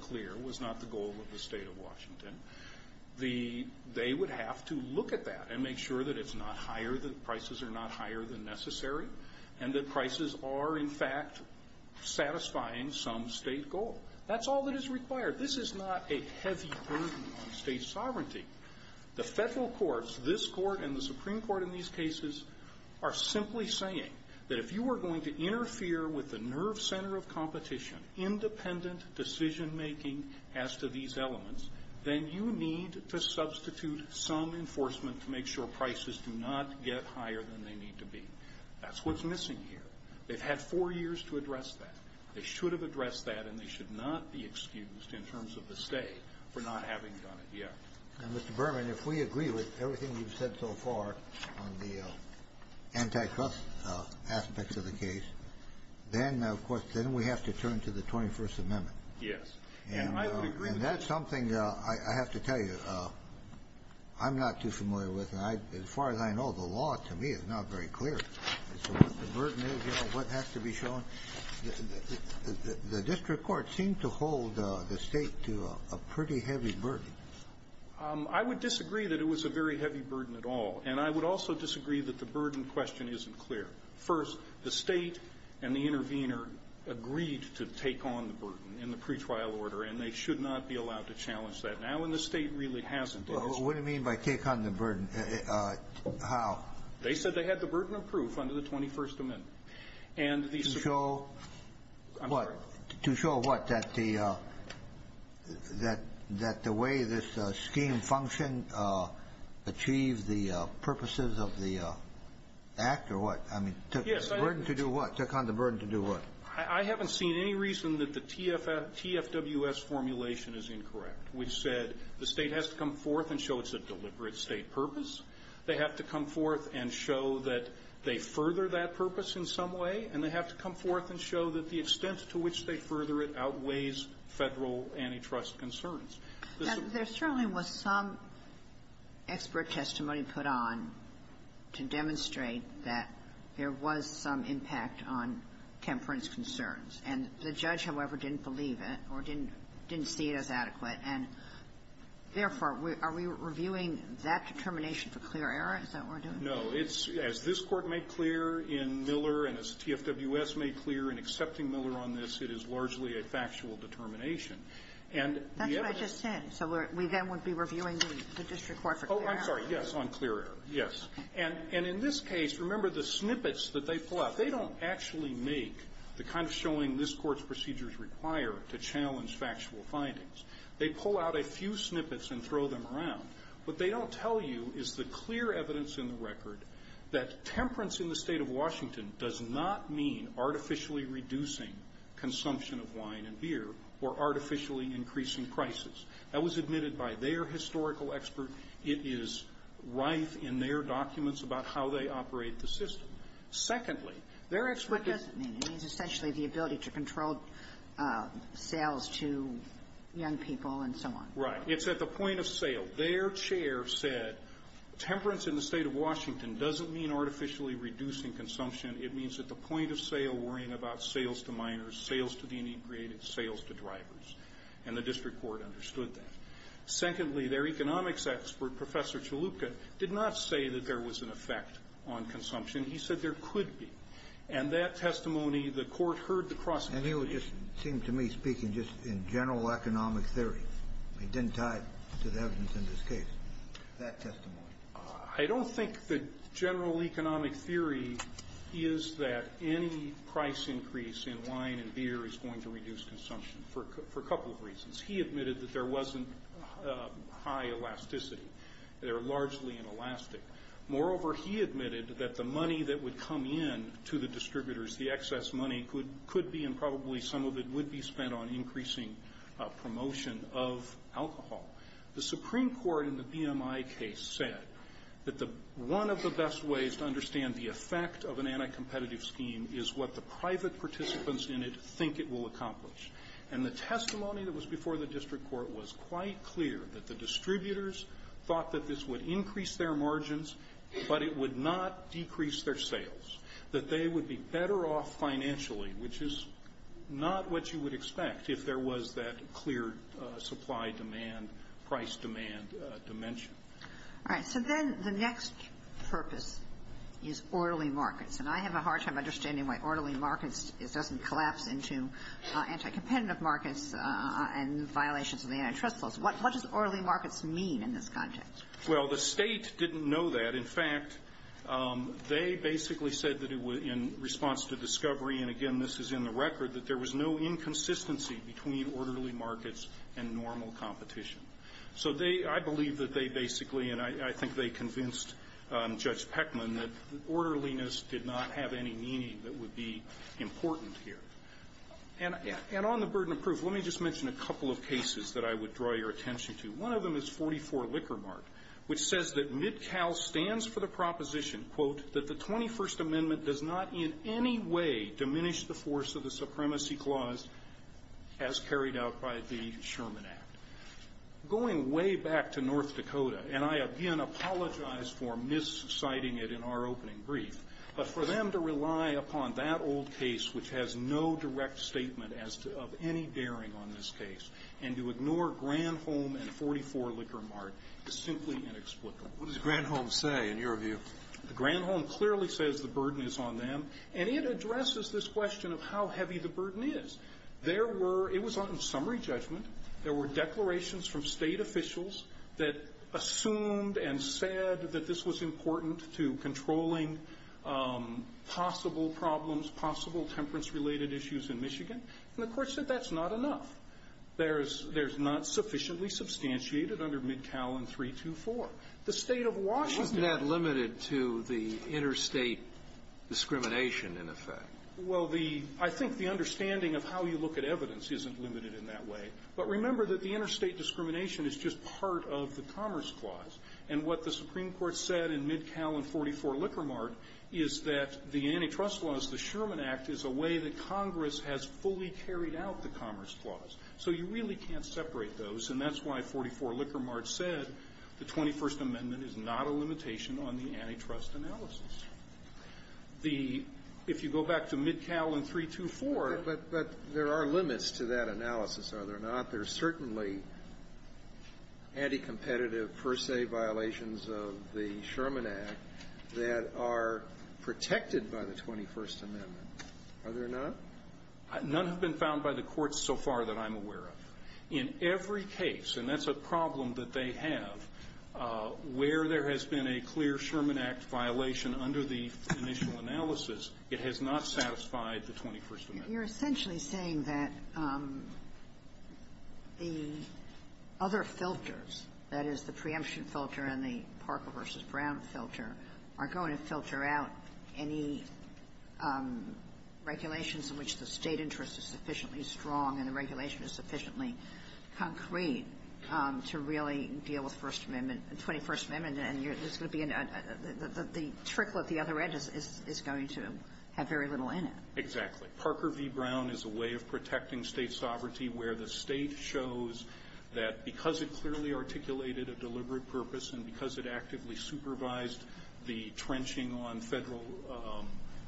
clear was not the goal of the State of Washington. They would have to look at that and make sure that it's not higher, that prices are not higher than necessary, and that prices are, in fact, satisfying some State goal. That's all that is required. This is not a heavy burden on State sovereignty. The federal courts, this court and the Supreme Court in these cases, are simply saying that if you are going to interfere with the nerve center of competition, independent decision-making as to these elements, then you need to substitute some enforcement to make sure prices do not get higher than they need to be. That's what's missing here. They've had four years to address that. They should have addressed that, and they should not be excused in terms of the State for not having done it yet. And, Mr. Berman, if we agree with everything you've said so far on the antitrust aspects of the case, then, of course, then we have to turn to the 21st Amendment. Yes. And that's something I have to tell you I'm not too familiar with. As far as I know, the law to me is not very clear as to what the burden is, what has to be shown. The district courts seem to hold the State to a pretty heavy burden. I would disagree that it was a very heavy burden at all, and I would also disagree that the burden question isn't clear. First, the State and the intervener agreed to take on the burden in the pretrial order, and they should not be allowed to challenge that now. And the State really hasn't. What do you mean by take on the burden? How? They said they had the burden of proof under the 21st Amendment. And the Supreme Court ---- To show what? To show what? That the way this scheme functioned achieved the purposes of the act, or what? I mean, burden to do what? Take on the burden to do what? I haven't seen any reason that the TFWS formulation is incorrect, which said the State has to come forth and show it's a deliberate State purpose. They have to come forth and show that they further that purpose in some way, and they have to come forth and show that the extent to which they further it outweighs Federal antitrust concerns. Now, there certainly was some expert testimony put on to demonstrate that there was some impact on Kemper and his concerns. And the judge, however, didn't believe it or didn't see it as adequate. And therefore, are we reviewing that determination for clear error? Is that what we're doing? No. It's, as this Court made clear in Miller and as TFWS made clear in accepting Miller on this, it is largely a factual determination. And the evidence ---- That's what I just said. So we then would be reviewing the district court for clear error. Oh, I'm sorry. Yes, on clear error. Yes. And in this case, remember the snippets that they pull out. They don't actually make the kind of showing this Court's procedures require to challenge factual findings. They pull out a few snippets and throw them around. What they don't tell you is the clear evidence in the record that temperance in the State of Washington does not mean artificially reducing consumption of wine and beer or artificially increasing prices. That was admitted by their historical expert. It is rife in their documents about how they operate the system. Secondly, their expert ---- What does it mean? It means essentially the ability to control sales to young people and so on. Right. It's at the point of sale. Their chair said temperance in the State of Washington doesn't mean artificially reducing consumption. It means at the point of sale worrying about sales to minors, sales to the integrated, sales to drivers. And the district court understood that. Secondly, their economics expert, Professor Chalupka, did not say that there was an effect on consumption. He said there could be. And that testimony, the Court heard the cross-examination. And he would just seem to me speaking just in general economic theory. It didn't tie to the evidence in this case. That testimony. I don't think the general economic theory is that any price increase in wine and beer is going to reduce consumption for a couple of reasons. He admitted that there wasn't high elasticity. They're largely inelastic. Moreover, he admitted that the money that would come in to the distributors, the excess money, could be and probably some of it would be spent on increasing promotion of alcohol. The Supreme Court in the BMI case said that one of the best ways to understand the effect of an anti-competitive scheme is what the private participants in it think it will accomplish. And the testimony that was before the district court was quite clear that the distributors thought that this would increase their margins, but it would not decrease their sales, that they would be better off financially, which is not what you would expect if there was that clear supply-demand, price-demand dimension. All right. So then the next purpose is orderly markets, and I have a hard time understanding why orderly markets doesn't collapse into anti-competitive markets and violations of the antitrust laws. What does orderly markets mean in this context? Well, the state didn't know that. In fact, they basically said that in response to discovery, and again, this is in the between orderly markets and normal competition. So they – I believe that they basically – and I think they convinced Judge Peckman that orderliness did not have any meaning that would be important here. And on the burden of proof, let me just mention a couple of cases that I would draw your attention to. One of them is 44 Liquor Mart, which says that Midcal stands for the proposition, quote, that the 21st Amendment does not in any way diminish the force of the supremacy clause as carried out by the Sherman Act. Going way back to North Dakota, and I again apologize for mis-citing it in our opening brief, but for them to rely upon that old case which has no direct statement as to – of any daring on this case and to ignore Granholm and 44 Liquor Mart is simply inexplicable. What does Granholm say, in your view? Granholm clearly says the burden is on them, and it addresses this question of how heavy the burden is. There were – it was on summary judgment. There were declarations from State officials that assumed and said that this was important to controlling possible problems, possible temperance-related issues in Michigan. And the Court said that's not enough. There's – there's not sufficiently substantiated under Midcal in 324. The State of Washington — What's that limited to the interstate discrimination, in effect? Well, the – I think the understanding of how you look at evidence isn't limited in that way. But remember that the interstate discrimination is just part of the Commerce Clause. And what the Supreme Court said in Midcal and 44 Liquor Mart is that the antitrust laws, the Sherman Act is a way that Congress has fully carried out the Commerce Clause. So you really can't separate those, and that's why 44 Liquor Mart said the 21st Amendment is not a limitation on the antitrust analysis. The – if you go back to Midcal in 324… But – but there are limits to that analysis, are there not? There are certainly anti-competitive, per se, violations of the Sherman Act that are protected by the 21st Amendment, are there not? None have been found by the courts so far that I'm aware of. In every case, and that's a problem that they have, where there has been a clear Sherman Act violation under the initial analysis, it has not satisfied the 21st Amendment. Kagan. You're essentially saying that the other filters, that is, the preemption filter and the Parker v. Brown filter, are going to filter out any regulations in which the State interest is sufficiently strong and the regulation is sufficiently concrete to really deal with First Amendment – 21st Amendment, and you're – there's going to be a – the trickle at the other end is going to have very little in it. Exactly. Parker v. Brown is a way of protecting State sovereignty where the State shows that because it clearly articulated a deliberate purpose and because it actively supervised the trenching on Federal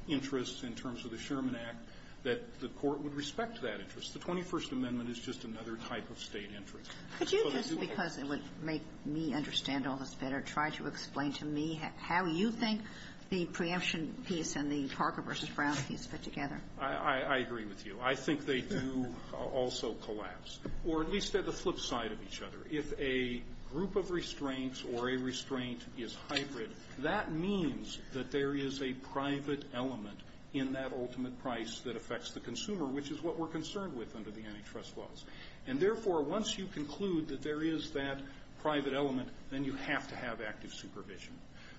interests in terms of the Sherman Act, that the Court would respect that interest. The 21st Amendment is just another type of State interest. Could you just, because it would make me understand all this better, try to explain to me how you think the preemption piece and the Parker v. Brown piece fit together? I agree with you. I think they do also collapse, or at least they're the flip side of each other. If a group of restraints or a restraint is hybrid, that means that there is a private element in that ultimate price that affects the consumer, which is what we're concerned with under the antitrust laws. And therefore, once you conclude that there is that private element, then you have to have active supervision.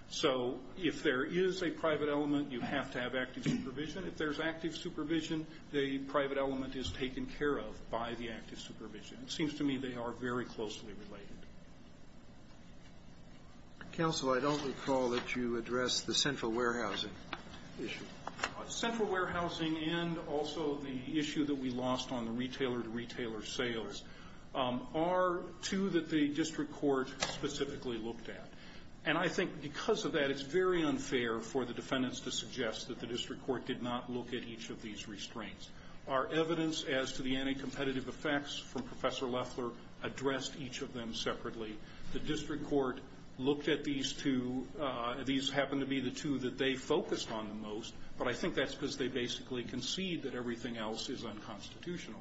So if there is a private element, you have to have active supervision. If there's active supervision, the private element is taken care of by the active supervision. It seems to me they are very closely related. Counsel, I don't recall that you addressed the central warehousing issue. Central warehousing and also the issue that we lost on the retailer-to-retailer sales are two that the district court specifically looked at. And I think because of that, it's very unfair for the defendants to suggest that the district court did not look at each of these restraints. Our evidence as to the anti-competitive effects from Professor Loeffler addressed each of them separately. The district court looked at these two. These happen to be the two that they focused on the most. But I think that's because they basically concede that everything else is unconstitutional.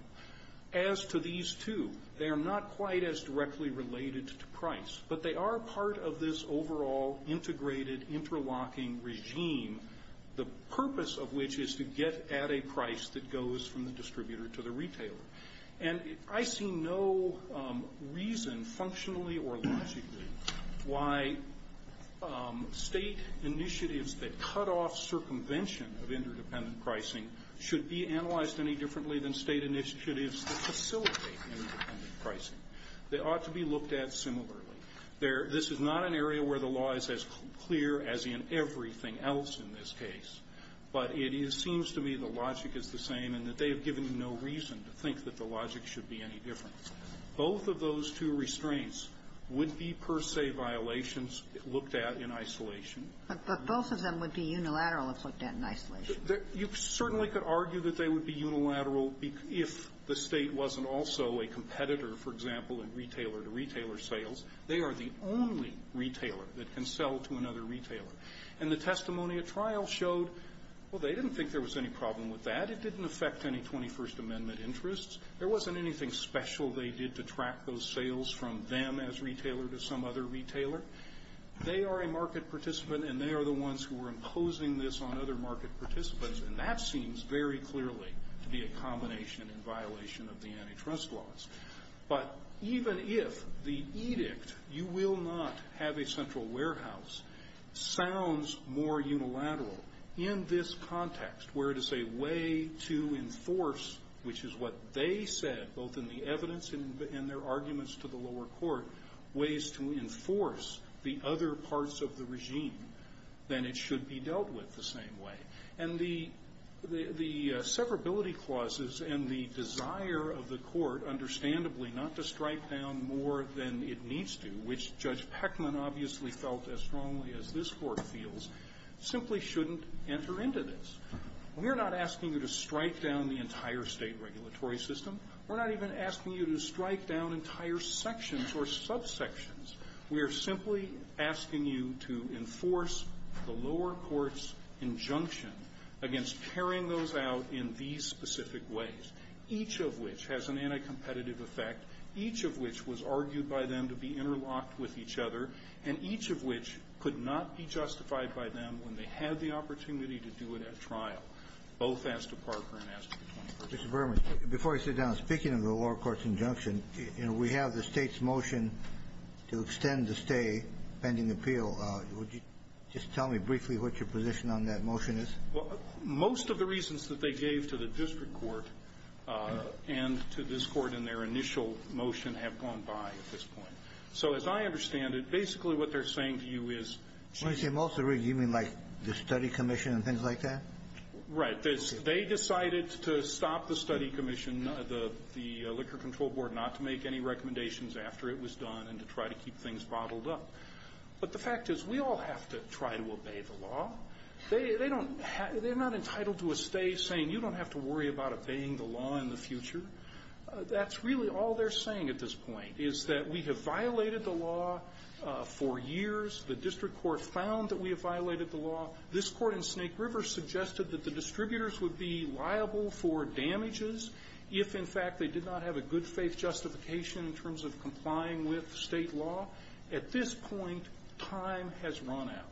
As to these two, they are not quite as directly related to price. But they are part of this overall integrated interlocking regime, the purpose of which is to get at a price that goes from the distributor to the retailer. And I see no reason functionally or logically why state initiatives that cut off circumvention of interdependent pricing should be analyzed any differently than state initiatives that facilitate interdependent pricing. They ought to be looked at similarly. This is not an area where the law is as clear as in everything else in this case. But it seems to me the logic is the same and that they have given you no reason to think that the logic should be any different. Both of those two restraints would be, per se, violations looked at in isolation. But both of them would be unilateral if looked at in isolation. You certainly could argue that they would be unilateral if the State wasn't also a competitor, for example, in retailer-to-retailer sales. They are the only retailer that can sell to another retailer. And the testimony at trial showed, well, they didn't think there was any problem with that. It didn't affect any 21st Amendment interests. There wasn't anything special they did to track those sales from them as retailer to some other retailer. They are a market participant and they are the ones who are imposing this on other market participants. And that seems very clearly to be a combination in violation of the antitrust laws. But even if the edict, you will not have a central warehouse, sounds more unilateral in this context, where it is a way to enforce, which is what they said, both in the evidence and their arguments to the lower court, ways to enforce the other parts of the regime, then it should be dealt with the same way. And the severability clauses and the desire of the court, understandably, not to strike down more than it needs to, which Judge Peckman obviously felt as strongly as this court feels, simply shouldn't enter into this. We're not asking you to strike down the entire state regulatory system. We're not even asking you to strike down entire sections or subsections. We're simply asking you to enforce the lower court's injunction against carrying those out in these specific ways, each of which has an anti-competitive effect, each of which was argued by them to be interlocked with each other, and each of which could not be justified by them when they had the opportunity to do it at trial, both as to Parker and as to the 21st. Kennedy. Verrilli, before I sit down, speaking of the lower court's injunction, you know, we have the State's motion to extend the stay pending appeal. Would you just tell me briefly what your position on that motion is? Well, most of the reasons that they gave to the district court and to this Court in their initial motion have gone by at this point. So as I understand it, basically what they're saying to you is they decided to stop the Study Commission, the Liquor Control Board, not to make any recommendations after it was done and to try to keep things bottled up. But the fact is we all have to try to obey the law. They're not entitled to a stay saying you don't have to worry about obeying the law in the future. That's really all they're saying at this point, is that we have violated the law. We have violated the law for years. The district court found that we have violated the law. This Court in Snake River suggested that the distributors would be liable for damages if, in fact, they did not have a good faith justification in terms of complying with State law. At this point, time has run out.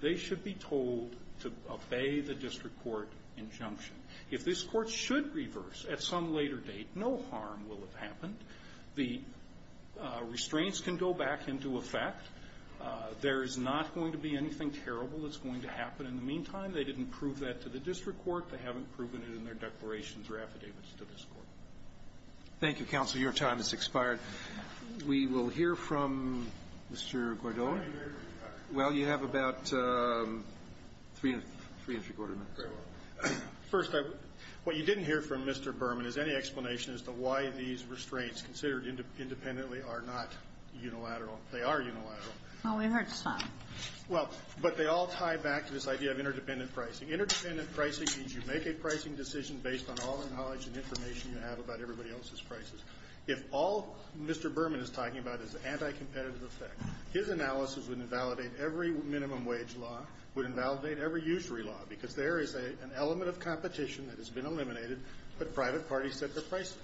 They should be told to obey the district court injunction. If this Court should reverse at some later date, no harm will have happened. The restraints can go back into effect. There is not going to be anything terrible that's going to happen. In the meantime, they didn't prove that to the district court. They haven't proven it in their declarations or affidavits to this Court. Roberts. Thank you, counsel. Your time has expired. We will hear from Mr. Gordo. Well, you have about three and a quarter minutes. First, what you didn't hear from Mr. Berman is any explanation as to why these restraints, considered independently, are not unilateral. They are unilateral. Well, we've heard some. Well, but they all tie back to this idea of interdependent pricing. Interdependent pricing means you make a pricing decision based on all the knowledge and information you have about everybody else's prices. If all Mr. Berman is talking about is the anti-competitive effect, his analysis would invalidate every minimum wage law, would invalidate every usury law, because there is an element of competition that has been eliminated, but private parties set their prices.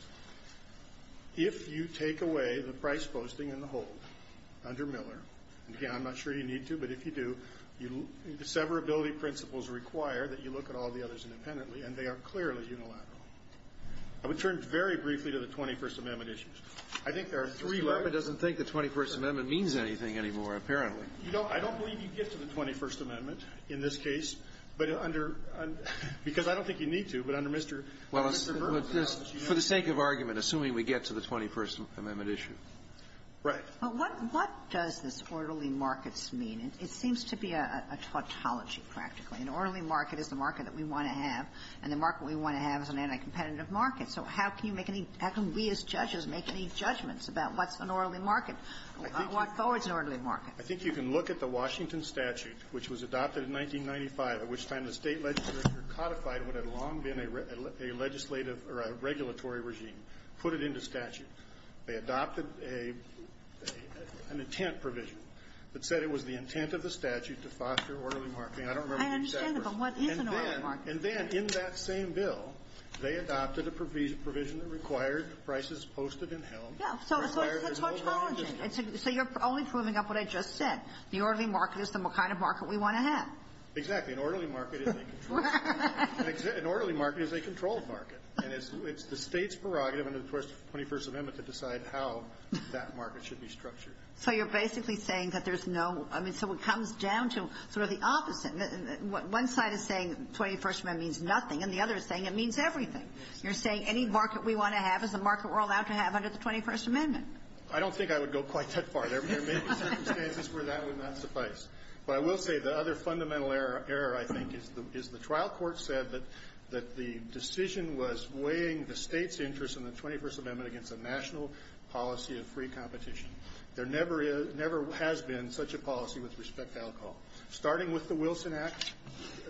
If you take away the price posting and the hold under Miller, and, again, I'm not sure you need to, but if you do, severability principles require that you look at all the others independently, and they are clearly unilateral. I would turn very briefly to the 21st Amendment issues. I think there are three, right? Mr. Berman doesn't think the 21st Amendment means anything anymore, apparently. You know, I don't believe you get to the 21st Amendment in this case, but under – because I don't think you need to, but under Mr. Berman's analysis, you know. Well, for the sake of argument, assuming we get to the 21st Amendment issue. Right. But what does this orderly markets mean? It seems to be a tautology, practically. An orderly market is the market that we want to have, and the market we want to have is an anti-competitive market. So how can you make any – how can we as judges make any judgments about what's an orderly market? I think you can look at the Washington statute, which was adopted in 1995, at which time the State legislature codified what had long been a legislative – or a regulatory regime, put it into statute. They adopted a – an intent provision that said it was the intent of the statute to foster orderly marketing. I don't remember exactly what it was. I understand, but what is an orderly market? And then – and then in that same bill, they adopted a provision that required prices posted in hell. Yeah. So it's a tautology. So you're only proving up what I just said. The orderly market is the kind of market we want to have. Exactly. An orderly market is a controlled market. An orderly market is a controlled market. And it's the State's prerogative under the 21st Amendment to decide how that market should be structured. So you're basically saying that there's no – I mean, so it comes down to sort of the opposite. One side is saying 21st Amendment means nothing, and the other is saying it means everything. You're saying any market we want to have is a market we're allowed to have under the 21st Amendment. I don't think I would go quite that far. There may be circumstances where that would not suffice. But I will say the other fundamental error, I think, is the trial court said that the decision was weighing the State's interest in the 21st Amendment against a national policy of free competition. There never is – never has been such a policy with respect to alcohol. Starting with the Wilson Act,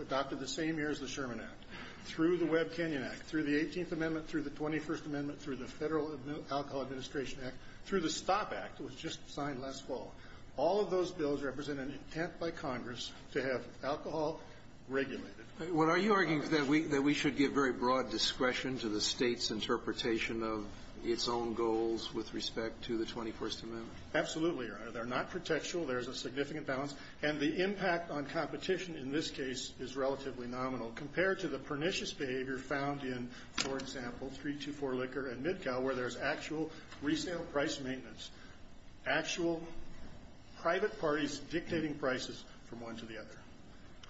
adopted the same year as the Sherman Act. Through the Webb-Kenyon Act, through the 18th Amendment, through the 21st Amendment, through the Federal Alcohol Administration Act, through the STOP Act, it was just signed last fall. All of those bills represent an intent by Congress to have alcohol regulated. What are you arguing? That we should give very broad discretion to the State's interpretation of its own goals with respect to the 21st Amendment? Absolutely, Your Honor. They're not pretextual. There's a significant balance. And the impact on competition in this case is relatively nominal. Compared to the pernicious behavior found in, for example, 324 Liquor and Midcow, where there's actual resale price maintenance, actual private parties dictating prices from one to the other.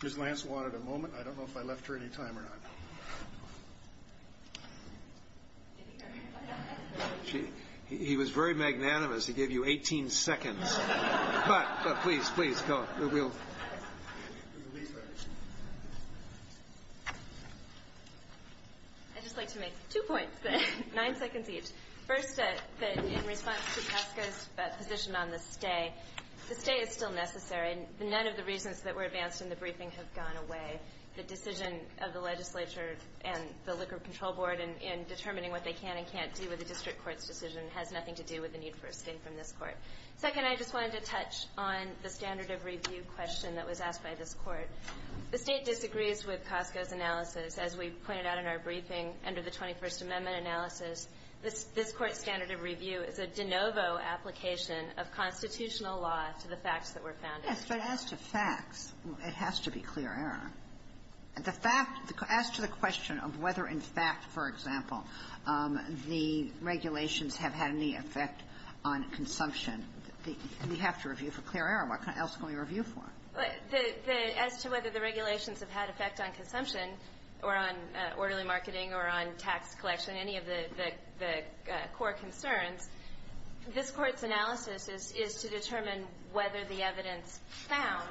Ms. Lance wanted a moment. I don't know if I left her any time or not. He was very magnanimous. He gave you 18 seconds. Please, please, go. We'll leave her. I'd just like to make two points, nine seconds each. First, in response to Casca's position on the stay, the stay is still necessary. None of the reasons that were advanced in the briefing have gone away. The decision of the legislature and the Liquor Control Board in determining what they can and can't do with the district court's decision has nothing to do with the need for a stay from this court. Second, I just wanted to touch on the standard of review question that was asked by this Court. The State disagrees with Casca's analysis. As we pointed out in our briefing under the 21st Amendment analysis, this Court's standard of review is a de novo application of constitutional law to the facts that were found in it. Yes, but as to facts, it has to be clear error. The fact, as to the question of whether in fact, for example, the regulations have had any effect on consumption, we have to review for clear error. What else can we review for? As to whether the regulations have had effect on consumption or on orderly marketing or on tax collection, any of the core concerns, this Court's analysis is to determine whether the evidence found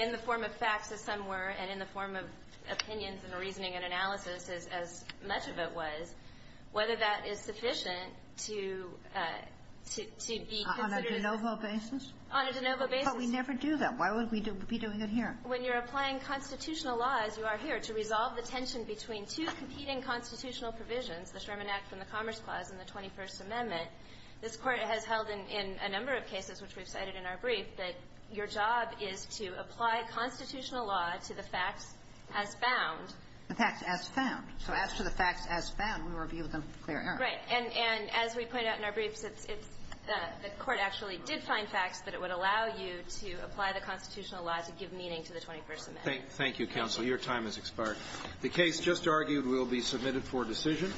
in the form of facts, as some were, and in the form of opinions and reasoning and analysis, as much of it was, whether that is sufficient to be considered as a de novo basis. On a de novo basis. But we never do that. Why would we be doing it here? When you're applying constitutional law, as you are here, to resolve the tension between two competing constitutional provisions, the Sherman Act and the Commerce Clause and the 21st Amendment, this Court has held in a number of cases, which we've cited in our brief, that your job is to apply constitutional law to the facts as found. The facts as found. So as to the facts as found, we review them for clear error. Right. And as we point out in our briefs, it's the Court actually did find facts, but it would allow you to apply the constitutional law to give meaning to the 21st Amendment. Thank you, counsel. Your time has expired. The case just argued will be submitted for decision.